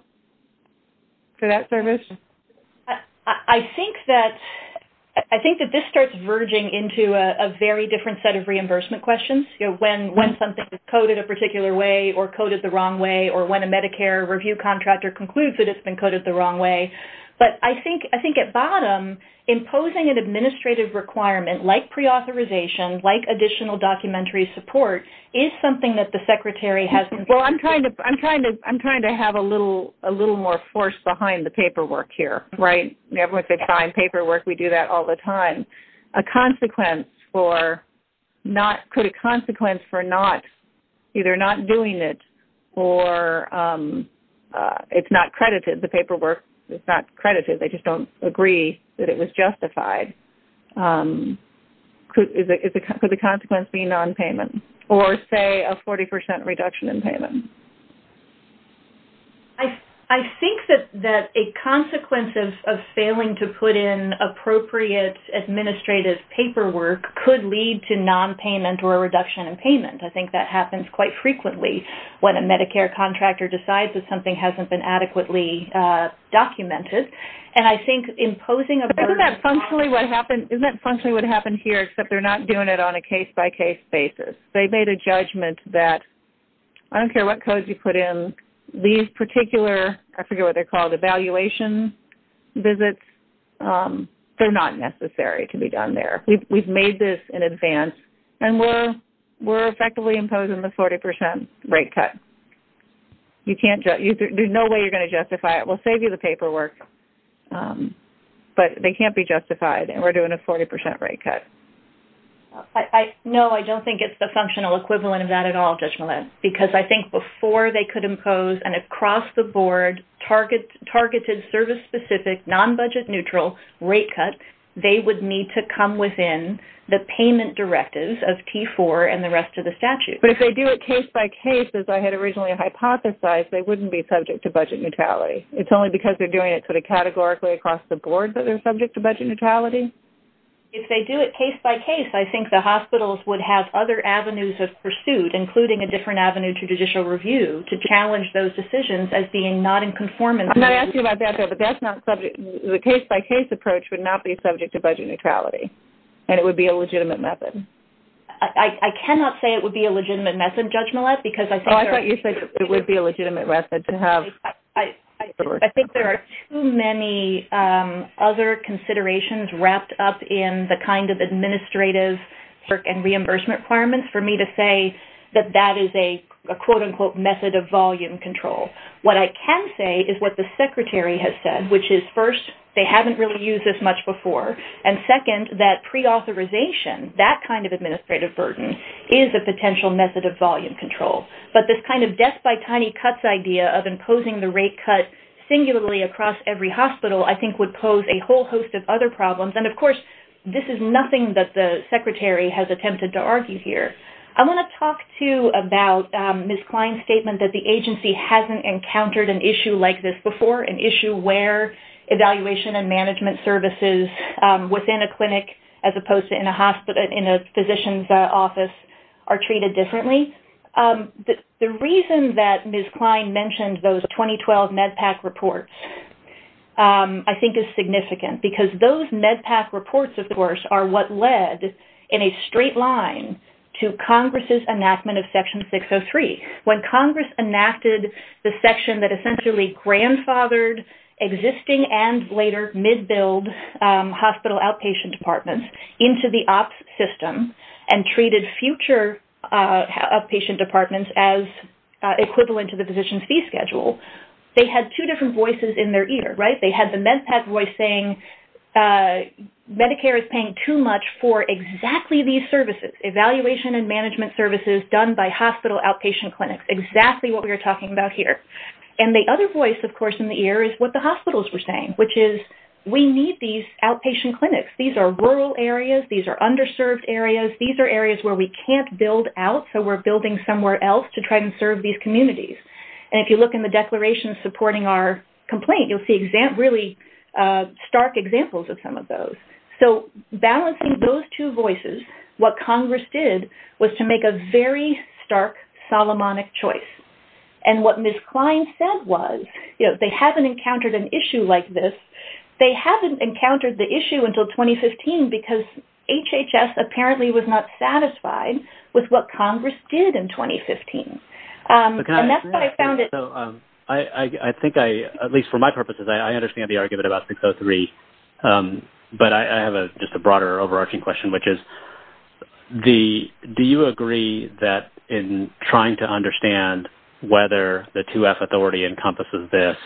for that service? I think that... I think that this starts verging into a very different set of reimbursement questions. You know, when something is coded a particular way or coded the wrong way and the Medicare review contractor concludes that it's been coded the wrong way. But I think at bottom, imposing an administrative requirement like preauthorization, like additional documentary support, is something that the secretary has... Well, I'm trying to have a little more force behind the paperwork here, right? Everyone says fine, paperwork. We do that all the time. A consequence for not... Could a consequence for not... Either not doing it or it's not credited. The paperwork is not credited. They just don't agree that it was justified. Could the consequence be nonpayment or, say, a 40% reduction in payment? I think that a consequence of failing to put in appropriate administrative paperwork could lead to nonpayment or a reduction in payment. I think that happens quite frequently when a Medicare contractor decides that something hasn't been adequately documented. And I think imposing a burden... Isn't that functionally what happened here except they're not doing it on a case-by-case basis? They made a judgment that I don't care what codes you put in, these particular, I forget what they're called, evaluation visits, they're not necessary to be done there. We've made this in advance and we're effectively imposing a 40% rate cut. You can't... There's no way you're going to justify it. We'll save you the paperwork. But they can't be justified and we're doing a 40% rate cut. No, I don't think it's the functional equivalent of that at all, Judge Millett, because I think before they could impose an across-the-board, targeted, service-specific, nonbudget-neutral rate cut, they would need to come within the payment directives and if they only hypothesized, they wouldn't be subject to budget neutrality. It's only because they're doing it sort of categorically across the board that they're subject to budget neutrality? If they do it case-by-case, I think the hospitals would have other avenues of pursuit, including a different avenue to judicial review, to challenge those decisions as being not in conformance... Can I ask you about that? The case-by-case approach that would be a legitimate method to have... I think there are too many other considerations wrapped up in the kind of administrative and reimbursement requirements for me to say that that is a quote-unquote method of volume control. What I can say is what the Secretary has said, which is first, they haven't really used this much before, and second, that preauthorization, that kind of administrative burden, that cost-by-tiny-cuts idea of imposing the rate cut singularly across every hospital, I think would pose a whole host of other problems. Of course, this is nothing that the Secretary has attempted to argue here. I want to talk, too, about Ms. Klein's statement that the agency hasn't encountered an issue like this before, an issue where evaluation and management services within a clinic as opposed to a hospital is a problem. The reason that Ms. Klein mentioned those 2012 MedPAC reports I think is significant because those MedPAC reports, of course, are what led in a straight line to Congress's enactment of Section 603. When Congress enacted the section that essentially grandfathered existing and later mid-billed hospital outpatient departments into the physician's fee schedule, they had two different voices in their ear. They had the MedPAC voice saying Medicare is paying too much for exactly these services, evaluation and management services done by hospital outpatient clinics, exactly what we are talking about here. The other voice, of course, in the ear is what the hospitals were saying, which is we need these outpatient clinics. These are rural areas. These are underserved areas. These are communities. If you look in the declaration supporting our complaint, you'll see really stark examples of some of those. Balancing those two voices, what Congress did was to make a very stark Solomonic choice. What Ms. Klein said was they haven't encountered an issue like this. They haven't encountered the issue until 2015 because HHS apparently was not satisfied with what they found. I think I, at least for my purposes, I understand the argument about 603, but I have just a broader overarching question, which is do you agree that in trying to understand whether the 2F authority encompasses this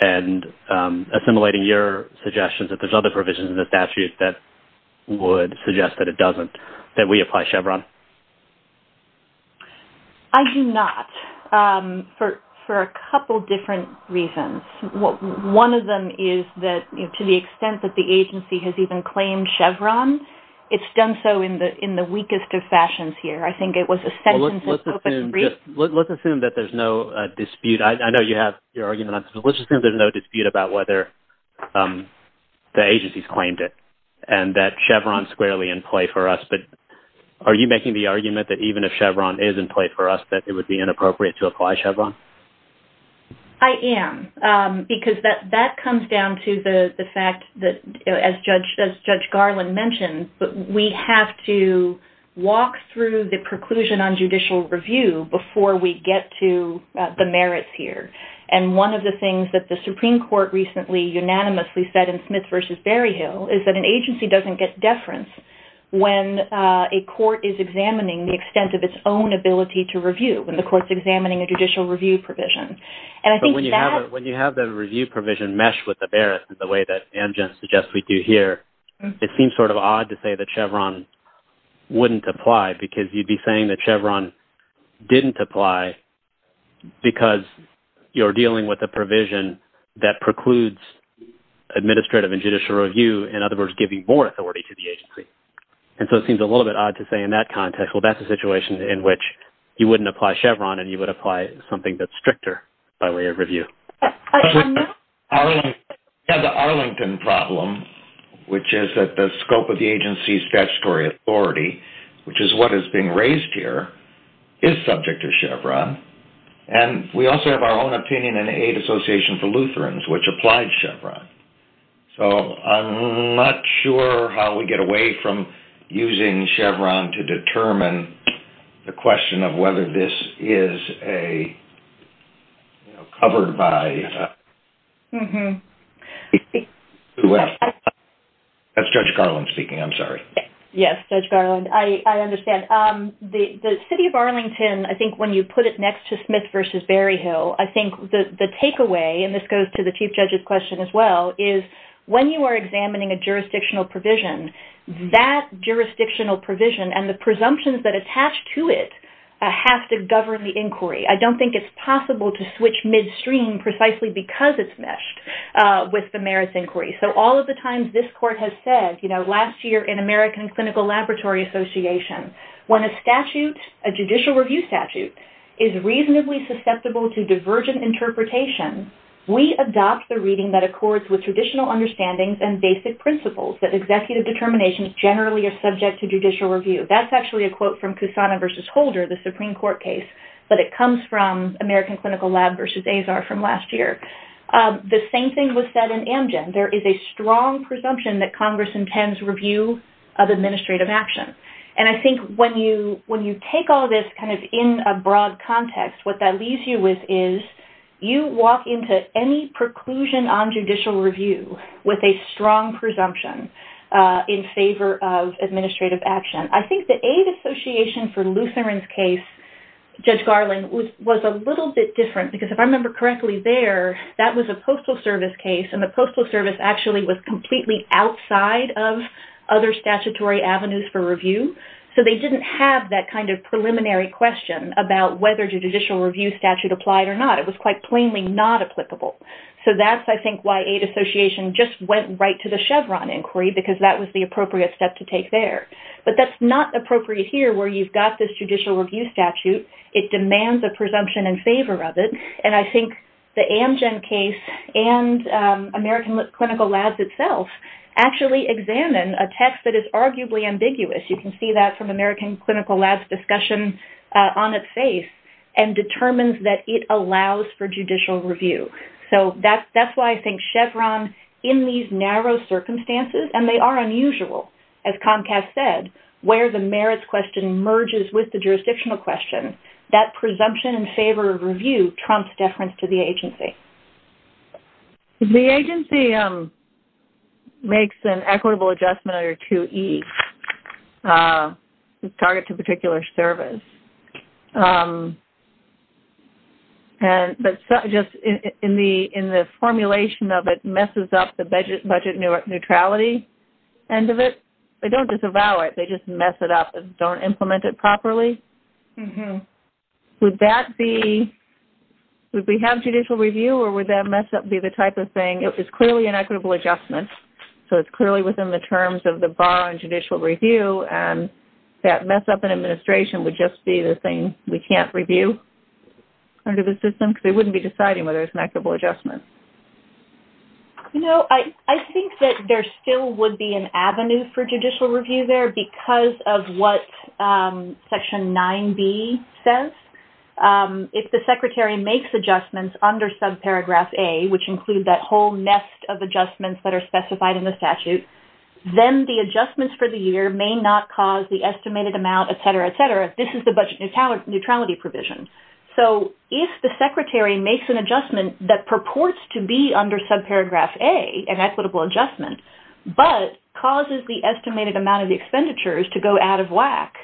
and assimilating your suggestions that there's other provisions in the statute that would suggest that it doesn't, that we apply Chevron? Yes, for a couple different reasons. One of them is that to the extent that the agency has even claimed Chevron, it's done so in the weakest of fashions here. I think it was a sentence that was brief. Let's assume that there's no dispute about whether and that Chevron's squarely in play for us, but are you making the argument that you don't apply Chevron? I am, because that comes down to the fact that, as Judge Garland mentioned, we have to walk through the preclusion on judicial review before we get to the merits here. One of the things that the Supreme Court recently unanimously said in Smith v. Berryhill is that an agency doesn't get deference when a court is examining the extent of its own ability to apply judicial review provision. When you have the review provision meshed with the merits the way that Ann just suggested we do here, it seems sort of odd to say that Chevron wouldn't apply because you'd be saying that Chevron didn't apply because you're dealing with a provision that precludes administrative and judicial review, in other words, giving more authority to the agency. It seems a little bit odd to say in that context, well, that's a situation in which you wouldn't apply Chevron and you would apply something that's stricter by way of review. We have the Arlington problem, which is that the scope of the agency's statutory authority, which is what is being raised here, is subject to Chevron. We also have our own opinion in the Association for Lutherans which applies Chevron. I'm not sure how we get away from using Chevron to determine the question of whether this is covered by... That's Judge Garland speaking. I'm sorry. Yes, Judge Garland. I understand. The City of Arlington, I think when you put it next to Smith v. Berryhill, I think the takeaway, and this goes to the Chief Judge's question as well, is that attached to it has to govern the inquiry. I don't think it's possible to switch midstream precisely because it's meshed with the merits inquiry. All of the times this court has said, last year in American Clinical Laboratory Association, when a judicial review statute is reasonably susceptible to divergent interpretation, we adopt the reading that accords with traditional understandings and basic principles that come from Kusana v. Holder, the Supreme Court case, but it comes from American Clinical Lab v. Azar from last year. The same thing was said in Amgen. There is a strong presumption that Congress intends review of administrative action. I think when you take all this in a broad context, what that leaves you with is you walk into any preclusion on judicial review with a strong presumption in favor of administrative action. The situation for Lutheran's case, Judge Garland, was a little bit different because if I remember correctly there, that was a Postal Service case and the Postal Service actually was completely outside of other statutory avenues for review. They didn't have that kind of preliminary question about whether the judicial review statute applied or not. It was quite plainly not applicable. That's, I think, why Eight Association just went right to the Chevron inquiry and got this judicial review statute. It demands a presumption in favor of it. I think the Amgen case and American Clinical Lab itself actually examine a text that is arguably ambiguous. You can see that from American Clinical Lab's discussion on its face and determines that it allows for judicial review. That's why I think Chevron, in these narrow circumstances, and they are unusual, as Comcast said, when it engages with the jurisdictional question, that presumption in favor of review trumps deference to the agency. The agency makes an equitable adjustment under 2E to target a particular service. In the formulation of it, it messes up the budget neutrality end of it. They don't disavow it. They just mess it up and don't implement it properly. Would that be... Would we have judicial review or would that mess up be the type of thing... It's clearly an equitable adjustment. It's clearly within the terms of the bar on judicial review. That mess up in administration would just be the thing we can't review under the system because they wouldn't be deciding whether it's an equitable adjustment. I think that there still would be an avenue because of what Section 9B says. If the secretary makes adjustments under subparagraph A, which include that whole nest of adjustments that are specified in the statute, then the adjustments for the year may not cause the estimated amount, et cetera, et cetera. This is the budget neutrality provision. If the secretary makes an adjustment that purports to be under subparagraph A, an equitable adjustment, but causes the estimated amount of expenditures to go out of whack,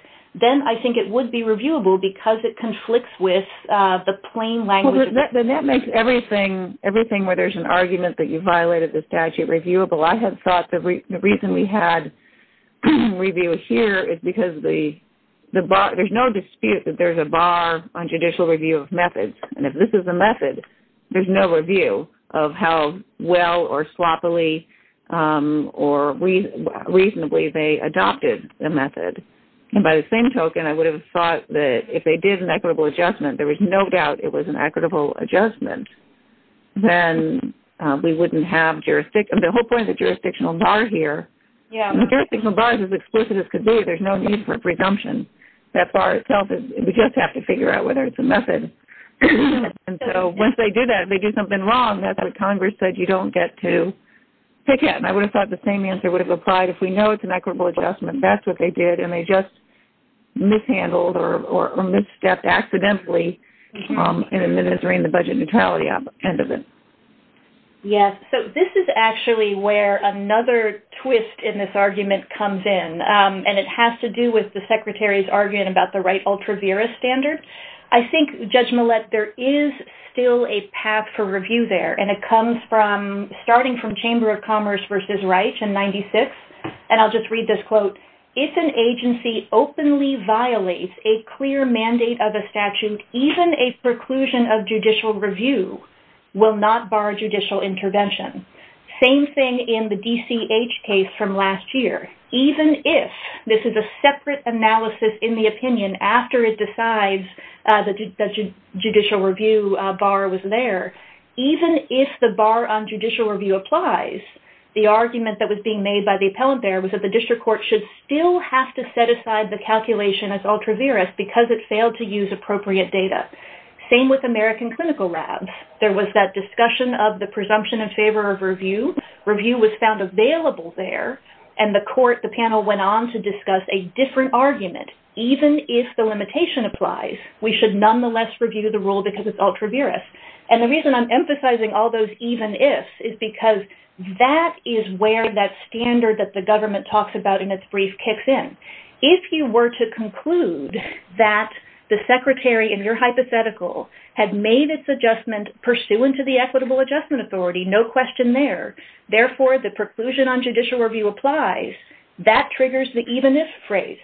then I think it would be reviewable because it conflicts with the plain language... Then that makes everything where there's an argument that you violated the statute reviewable. I have thought the reason we had review here is because there's no dispute that there's a bar on judicial review of methods. If this is a method, there's no review of how well or swappably or reasonably adopted the method. By the same token, I would have thought that if they did an equitable adjustment, there was no doubt it was an equitable adjustment, then we wouldn't have jurisdiction. The whole point of the jurisdictional bar here, the jurisdictional bar is as exclusive as can be. There's no need for presumption. That bar itself, we just have to figure out whether it's a method. Once they do that, if they do something wrong, if they do an equitable adjustment, that's what they did and they just mishandled or misstepped accidentally in administering the budget neutrality at the end of it. This is actually where another twist in this argument comes in. It has to do with the Secretary's argument about the right ultra-vera standard. I think, Judge Millett, there is still a path for review there. It comes from starting from Chamber of Commerce that if an agency openly violates a clear mandate of a statute, even a preclusion of judicial review will not bar judicial intervention. Same thing in the DCH case from last year. Even if this is a separate analysis in the opinion after it decides the judicial review bar was there, even if the bar on judicial review applies, the argument that was being made by the appellant there still has to set aside the calculation as ultra-vera because it failed to use appropriate data. Same with American Clinical Lab. There was that discussion of the presumption in favor of review. Review was found available there and the panel went on to discuss a different argument. Even if the limitation applies, we should nonetheless review the rule because it's ultra-vera. The reason I'm emphasizing all those even ifs is because that is where judicial review kicks in. If you were to conclude that the secretary in your hypothetical had made its adjustment pursuant to the equitable adjustment authority, no question there, therefore the preclusion on judicial review applies, that triggers the even if phrase.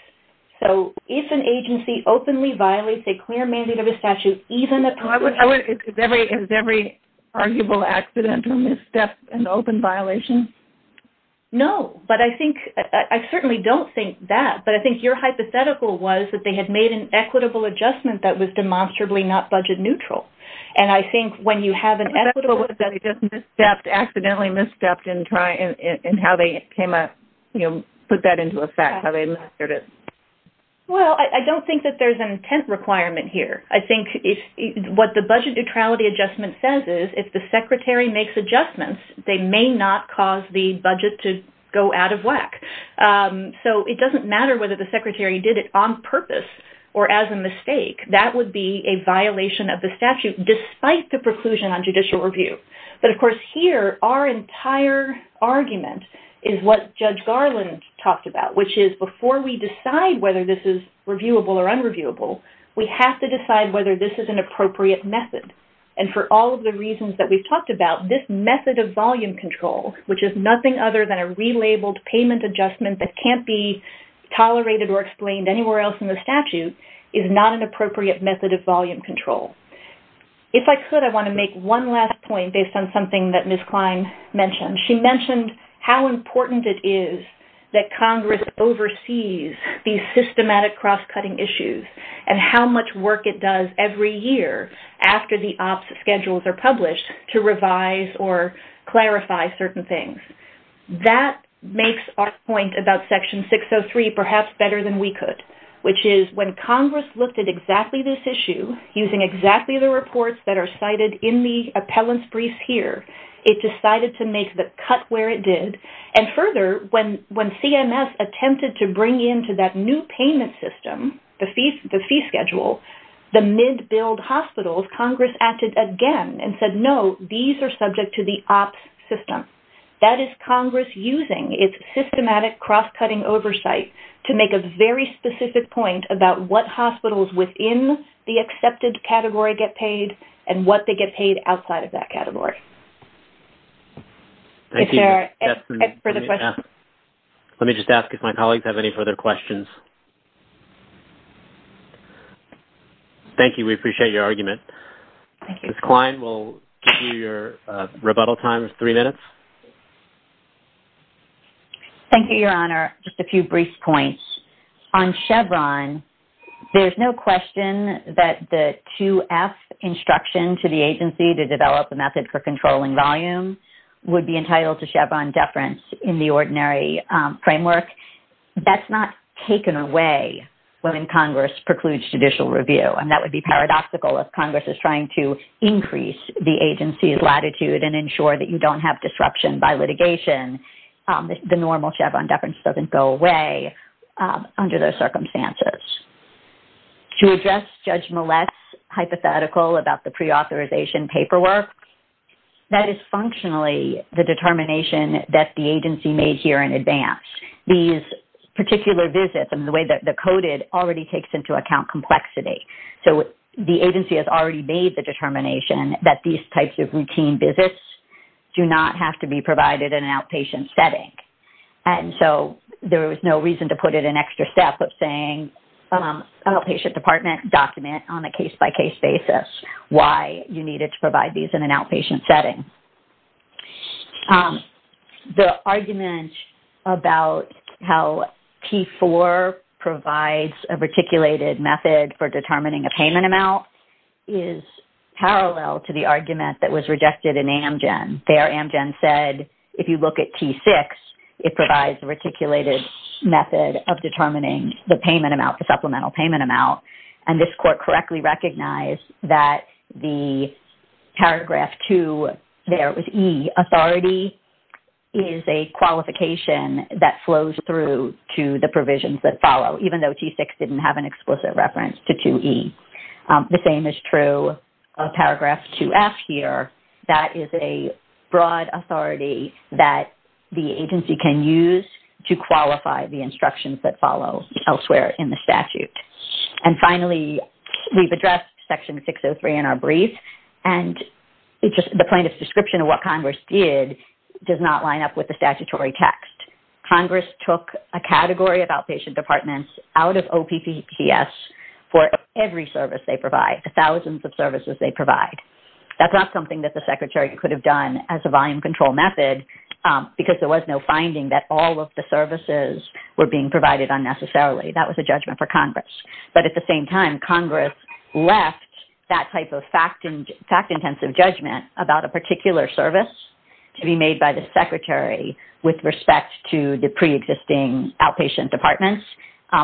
If an agency openly violates a clear mandate of a statute, even if... Is every arguable accident and misstep an open violation? No. I don't think that, but I think your hypothetical was that they had made an equitable adjustment that was demonstrably not budget neutral. I think when you have an equitable... Accidentally misstepped in how they put that into effect, how they administered it. I don't think that there's an intent requirement here. What the budget neutrality adjustment says is if the secretary makes adjustments, they may not cause the budget to go out of whack. It doesn't matter whether the secretary did it on purpose or as a mistake. That would be a violation of the statute despite the preclusion on judicial review. But of course here, our entire argument is what Judge Garland talked about, which is before we decide whether this is reviewable or unreviewable, we have to decide whether this is an appropriate method. And for all of the reasons that we've talked about, this method of volume control, which is not tolerated or explained anywhere else in the statute, is not an appropriate method of volume control. If I could, I want to make one last point based on something that Ms. Klein mentioned. She mentioned how important it is that Congress oversees these systematic cross-cutting issues and how much work it does every year after the OPS schedules are published to revise or clarify certain things. That makes our point about Section 603 perhaps better than we could, which is when Congress looked at exactly this issue using exactly the reports that are cited in the appellants briefs here, it decided to make the cut where it did. And further, when CMS attempted to bring in to that new payment system, the fee schedule, the mid-billed hospitals, Congress acted again and said, no, these are subject to the OPS system. That is Congress using cross-cutting oversight to make a very specific point about what hospitals within the accepted category get paid and what they get paid outside of that category. If there are further questions. Let me just ask if my colleagues have any further questions. Thank you. We appreciate your argument. Ms. Klein, we'll give you your rebuttal time of three minutes. Thank you, Your Honor. Just a few brief points. On Chevron, there's no question that the 2F instruction to the agency to develop a method for controlling volume would be entitled to Chevron deference in the ordinary framework. That's not taken away when Congress precludes judicial review. And that would be paradoxical if Congress is trying to increase the agency's latitude and ensure that you don't have disruption by litigation, the normal Chevron deference doesn't go away under those circumstances. To address Judge Millett's hypothetical about the preauthorization paperwork, that is functionally the determination that the agency made here in advance. These particular visits and the way they're coded already takes into account complexity. The agency has already made the determination that these visits do not have to be provided in an outpatient setting. And so there was no reason to put in an extra step of saying an outpatient department document on a case-by-case basis why you needed to provide these in an outpatient setting. The argument about how P4 provides a reticulated method for determining a payment amount is parallel to the argument that was rejected in Amgen. There, Amgen said, if you look at T6, it provides a reticulated method of determining the payment amount, the supplemental payment amount. And this court correctly recognized that the paragraph 2 there with E, authority is a qualification that flows through to the provisions that follow, even though T6 didn't have an explicit reference to 2E. The same is true of paragraph 2F here. That is a broad authority that the agency can use to qualify the instructions that follow elsewhere in the statute. And finally, we've addressed Section 603 in our brief, and the plaintiff's description of what Congress did does not line up with the statutory text. Congress took a category of outpatient departments out of OPCTS for every service they provide, the thousands of services they provide. That's not something that the Secretary could have done as a volume control method because there was no finding that all of the services were being provided unnecessarily. That was a judgment for Congress. But at the same time, Congress left that type of fact-intensive judgment about a particular service to be made by the Secretary with respect to the preexisting outpatient departments,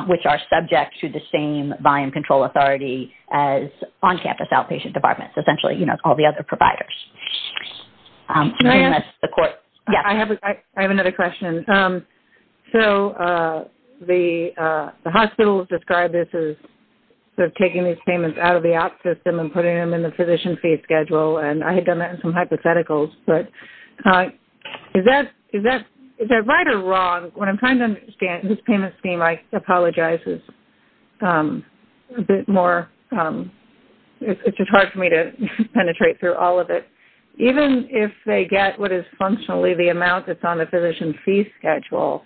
which are subject to the same volume control authority as on-campus outpatient departments. Essentially, you know, all the other providers. Can I ask a question? I have another question. So the hospital described this as taking these payments out of the out system and putting them in the physician fee schedule. And I had done that in some hypotheticals. But is that right or wrong? When I'm trying to understand this payment scheme, I apologize. It's a bit more... It's just hard for me to penetrate through all of it. Even if they get what is functionally the amount that's on the physician fee schedule,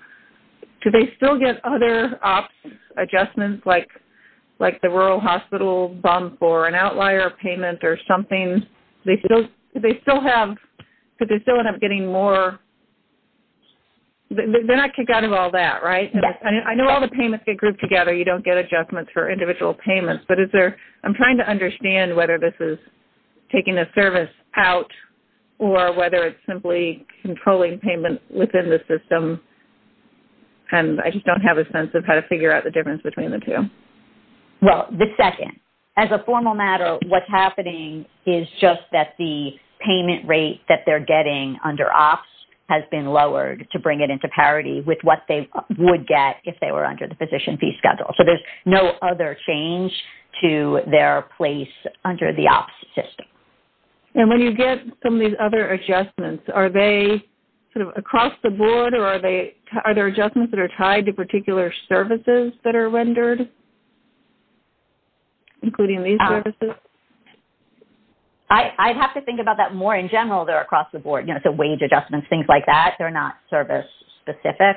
do they still get other ops adjustments like the rural hospital bump or an outlier payment or something? Do they still have... Do they still end up getting more... They're not kicked out of all that, right? I know all the payments get grouped together. You don't get adjustments for individual payments. But is there... I'm trying to understand whether this is taking a service out or whether it's simply controlling payment within the system. And I just don't have a sense of how to figure out the difference between the two. Well, the second. As a formal matter, what's happening is just that the payment rate that they're getting under ops has been lowered to bring it into parity with what they would get if they were under the physician fee schedule. So there's no other change to their place under the ops system. And when you get some of these other adjustments, are they sort of across the board or are they... Are there adjustments that are tied to particular services that are rendered including these services? I'd have to think about that more in general there across the board. You know, so wage adjustments, things like that, they're not service specific.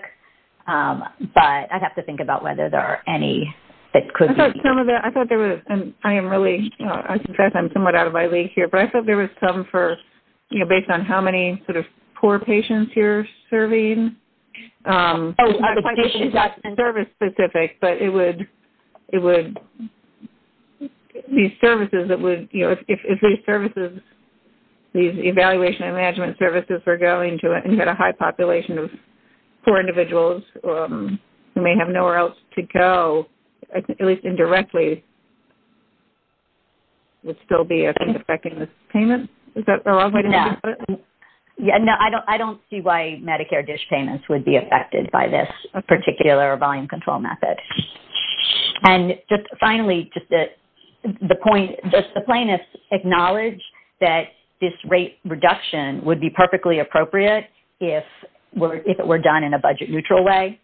But I'd have to think about whether there are any that could be... I thought some of that... I thought there was... I am really... I suspect I'm somewhat out of my league here. But I thought there was some for, you know, based on how many sort of poor patients you're serving. Oh, I thought you said service specific but it would... It would... These services that would... You know, if these services, these evaluation and management services were going to a high population of poor individuals who may have nowhere else to go at least indirectly would still be affecting this payment? Is that the wrong way to think of it? Yeah. No, I don't see why Medicare dish payments would be affected by this particular volume control method. And just finally the point... Does the plaintiff acknowledge that this rate reduction would be perfectly appropriate if it were done in a budget neutral way?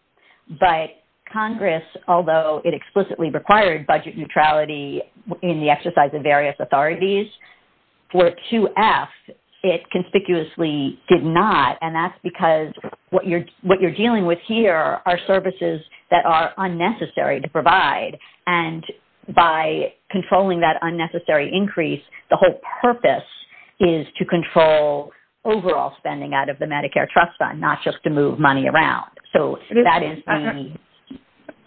But Congress, although it explicitly required budget neutrality in the exercise of various authorities for 2F it conspicuously did not. And that's because what you're... What you're dealing with here are services that are unnecessary to provide. And by controlling that unnecessary increase the whole purpose is to control overall spending out of the Medicare trust fund not just to move money around. So that is...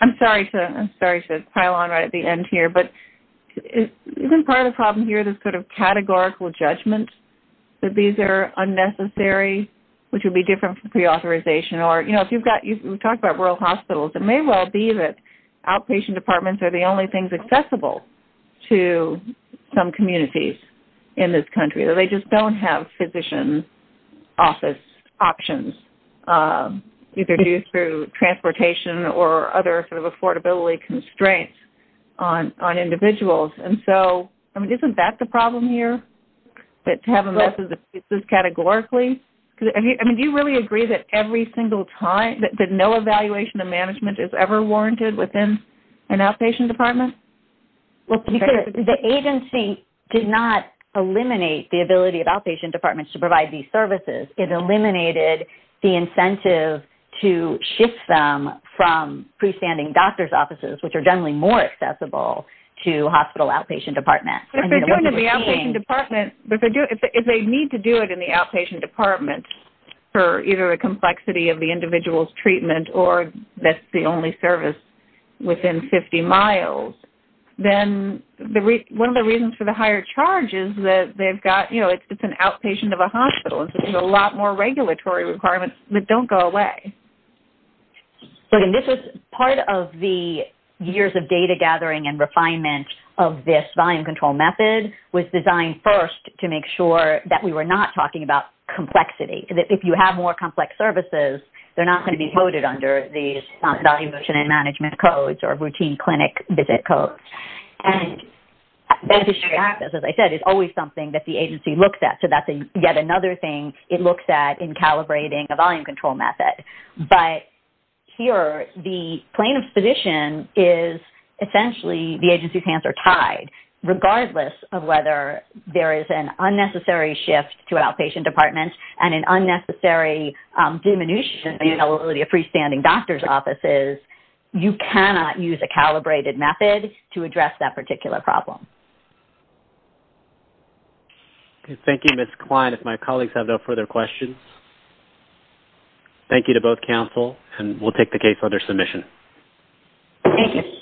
I'm sorry to... I'm sorry to pile on right at the end here but isn't part of the problem here this sort of categorical judgment that these are unnecessary which would be different from pre-authorization or you know if you've got... We talk about rural hospitals it may well be that outpatient departments are the only things accessible to some communities in this country or they just don't have physician office options either due to transportation or other sort of affordability constraints on individuals. And so I mean isn't that the problem here that having this categorically? I mean do you really agree that every single time that no evaluation of management is ever warranted within an outpatient department? Well because the agency did not eliminate the ability of outpatient departments to provide these services. It eliminated the incentive to shift them from pre-standing doctor's offices which are generally more accessible to hospital outpatient departments. If they need to do it in the outpatient departments for either a complexity of the individual's treatment or that's the only service within 50 miles then one of the reasons for the higher charge is that they've got, you know, it's an outpatient of a hospital. It's a lot more regulatory requirements that don't go away. So this is part of the years of data gathering and refinement of this volume control method was designed first to make sure that we were not talking about complexity. If you have more complex services they're not going to be coded under these management codes or routine clinic visit codes. And as I said it's always something that the agency looks at. So that's yet another thing it looks at in calibrating the volume control method. But here the plane of submission is essentially the agency's hands are tied regardless of whether there is an increase volume. So if you have a large number of patients and doctors offices you cannot use a calibrated method to address that particular problem. Thank you. Thank you, Ms. Klein. If my colleagues have no further questions. Thank you to both counsel and we'll take the case for their submission. Thank you.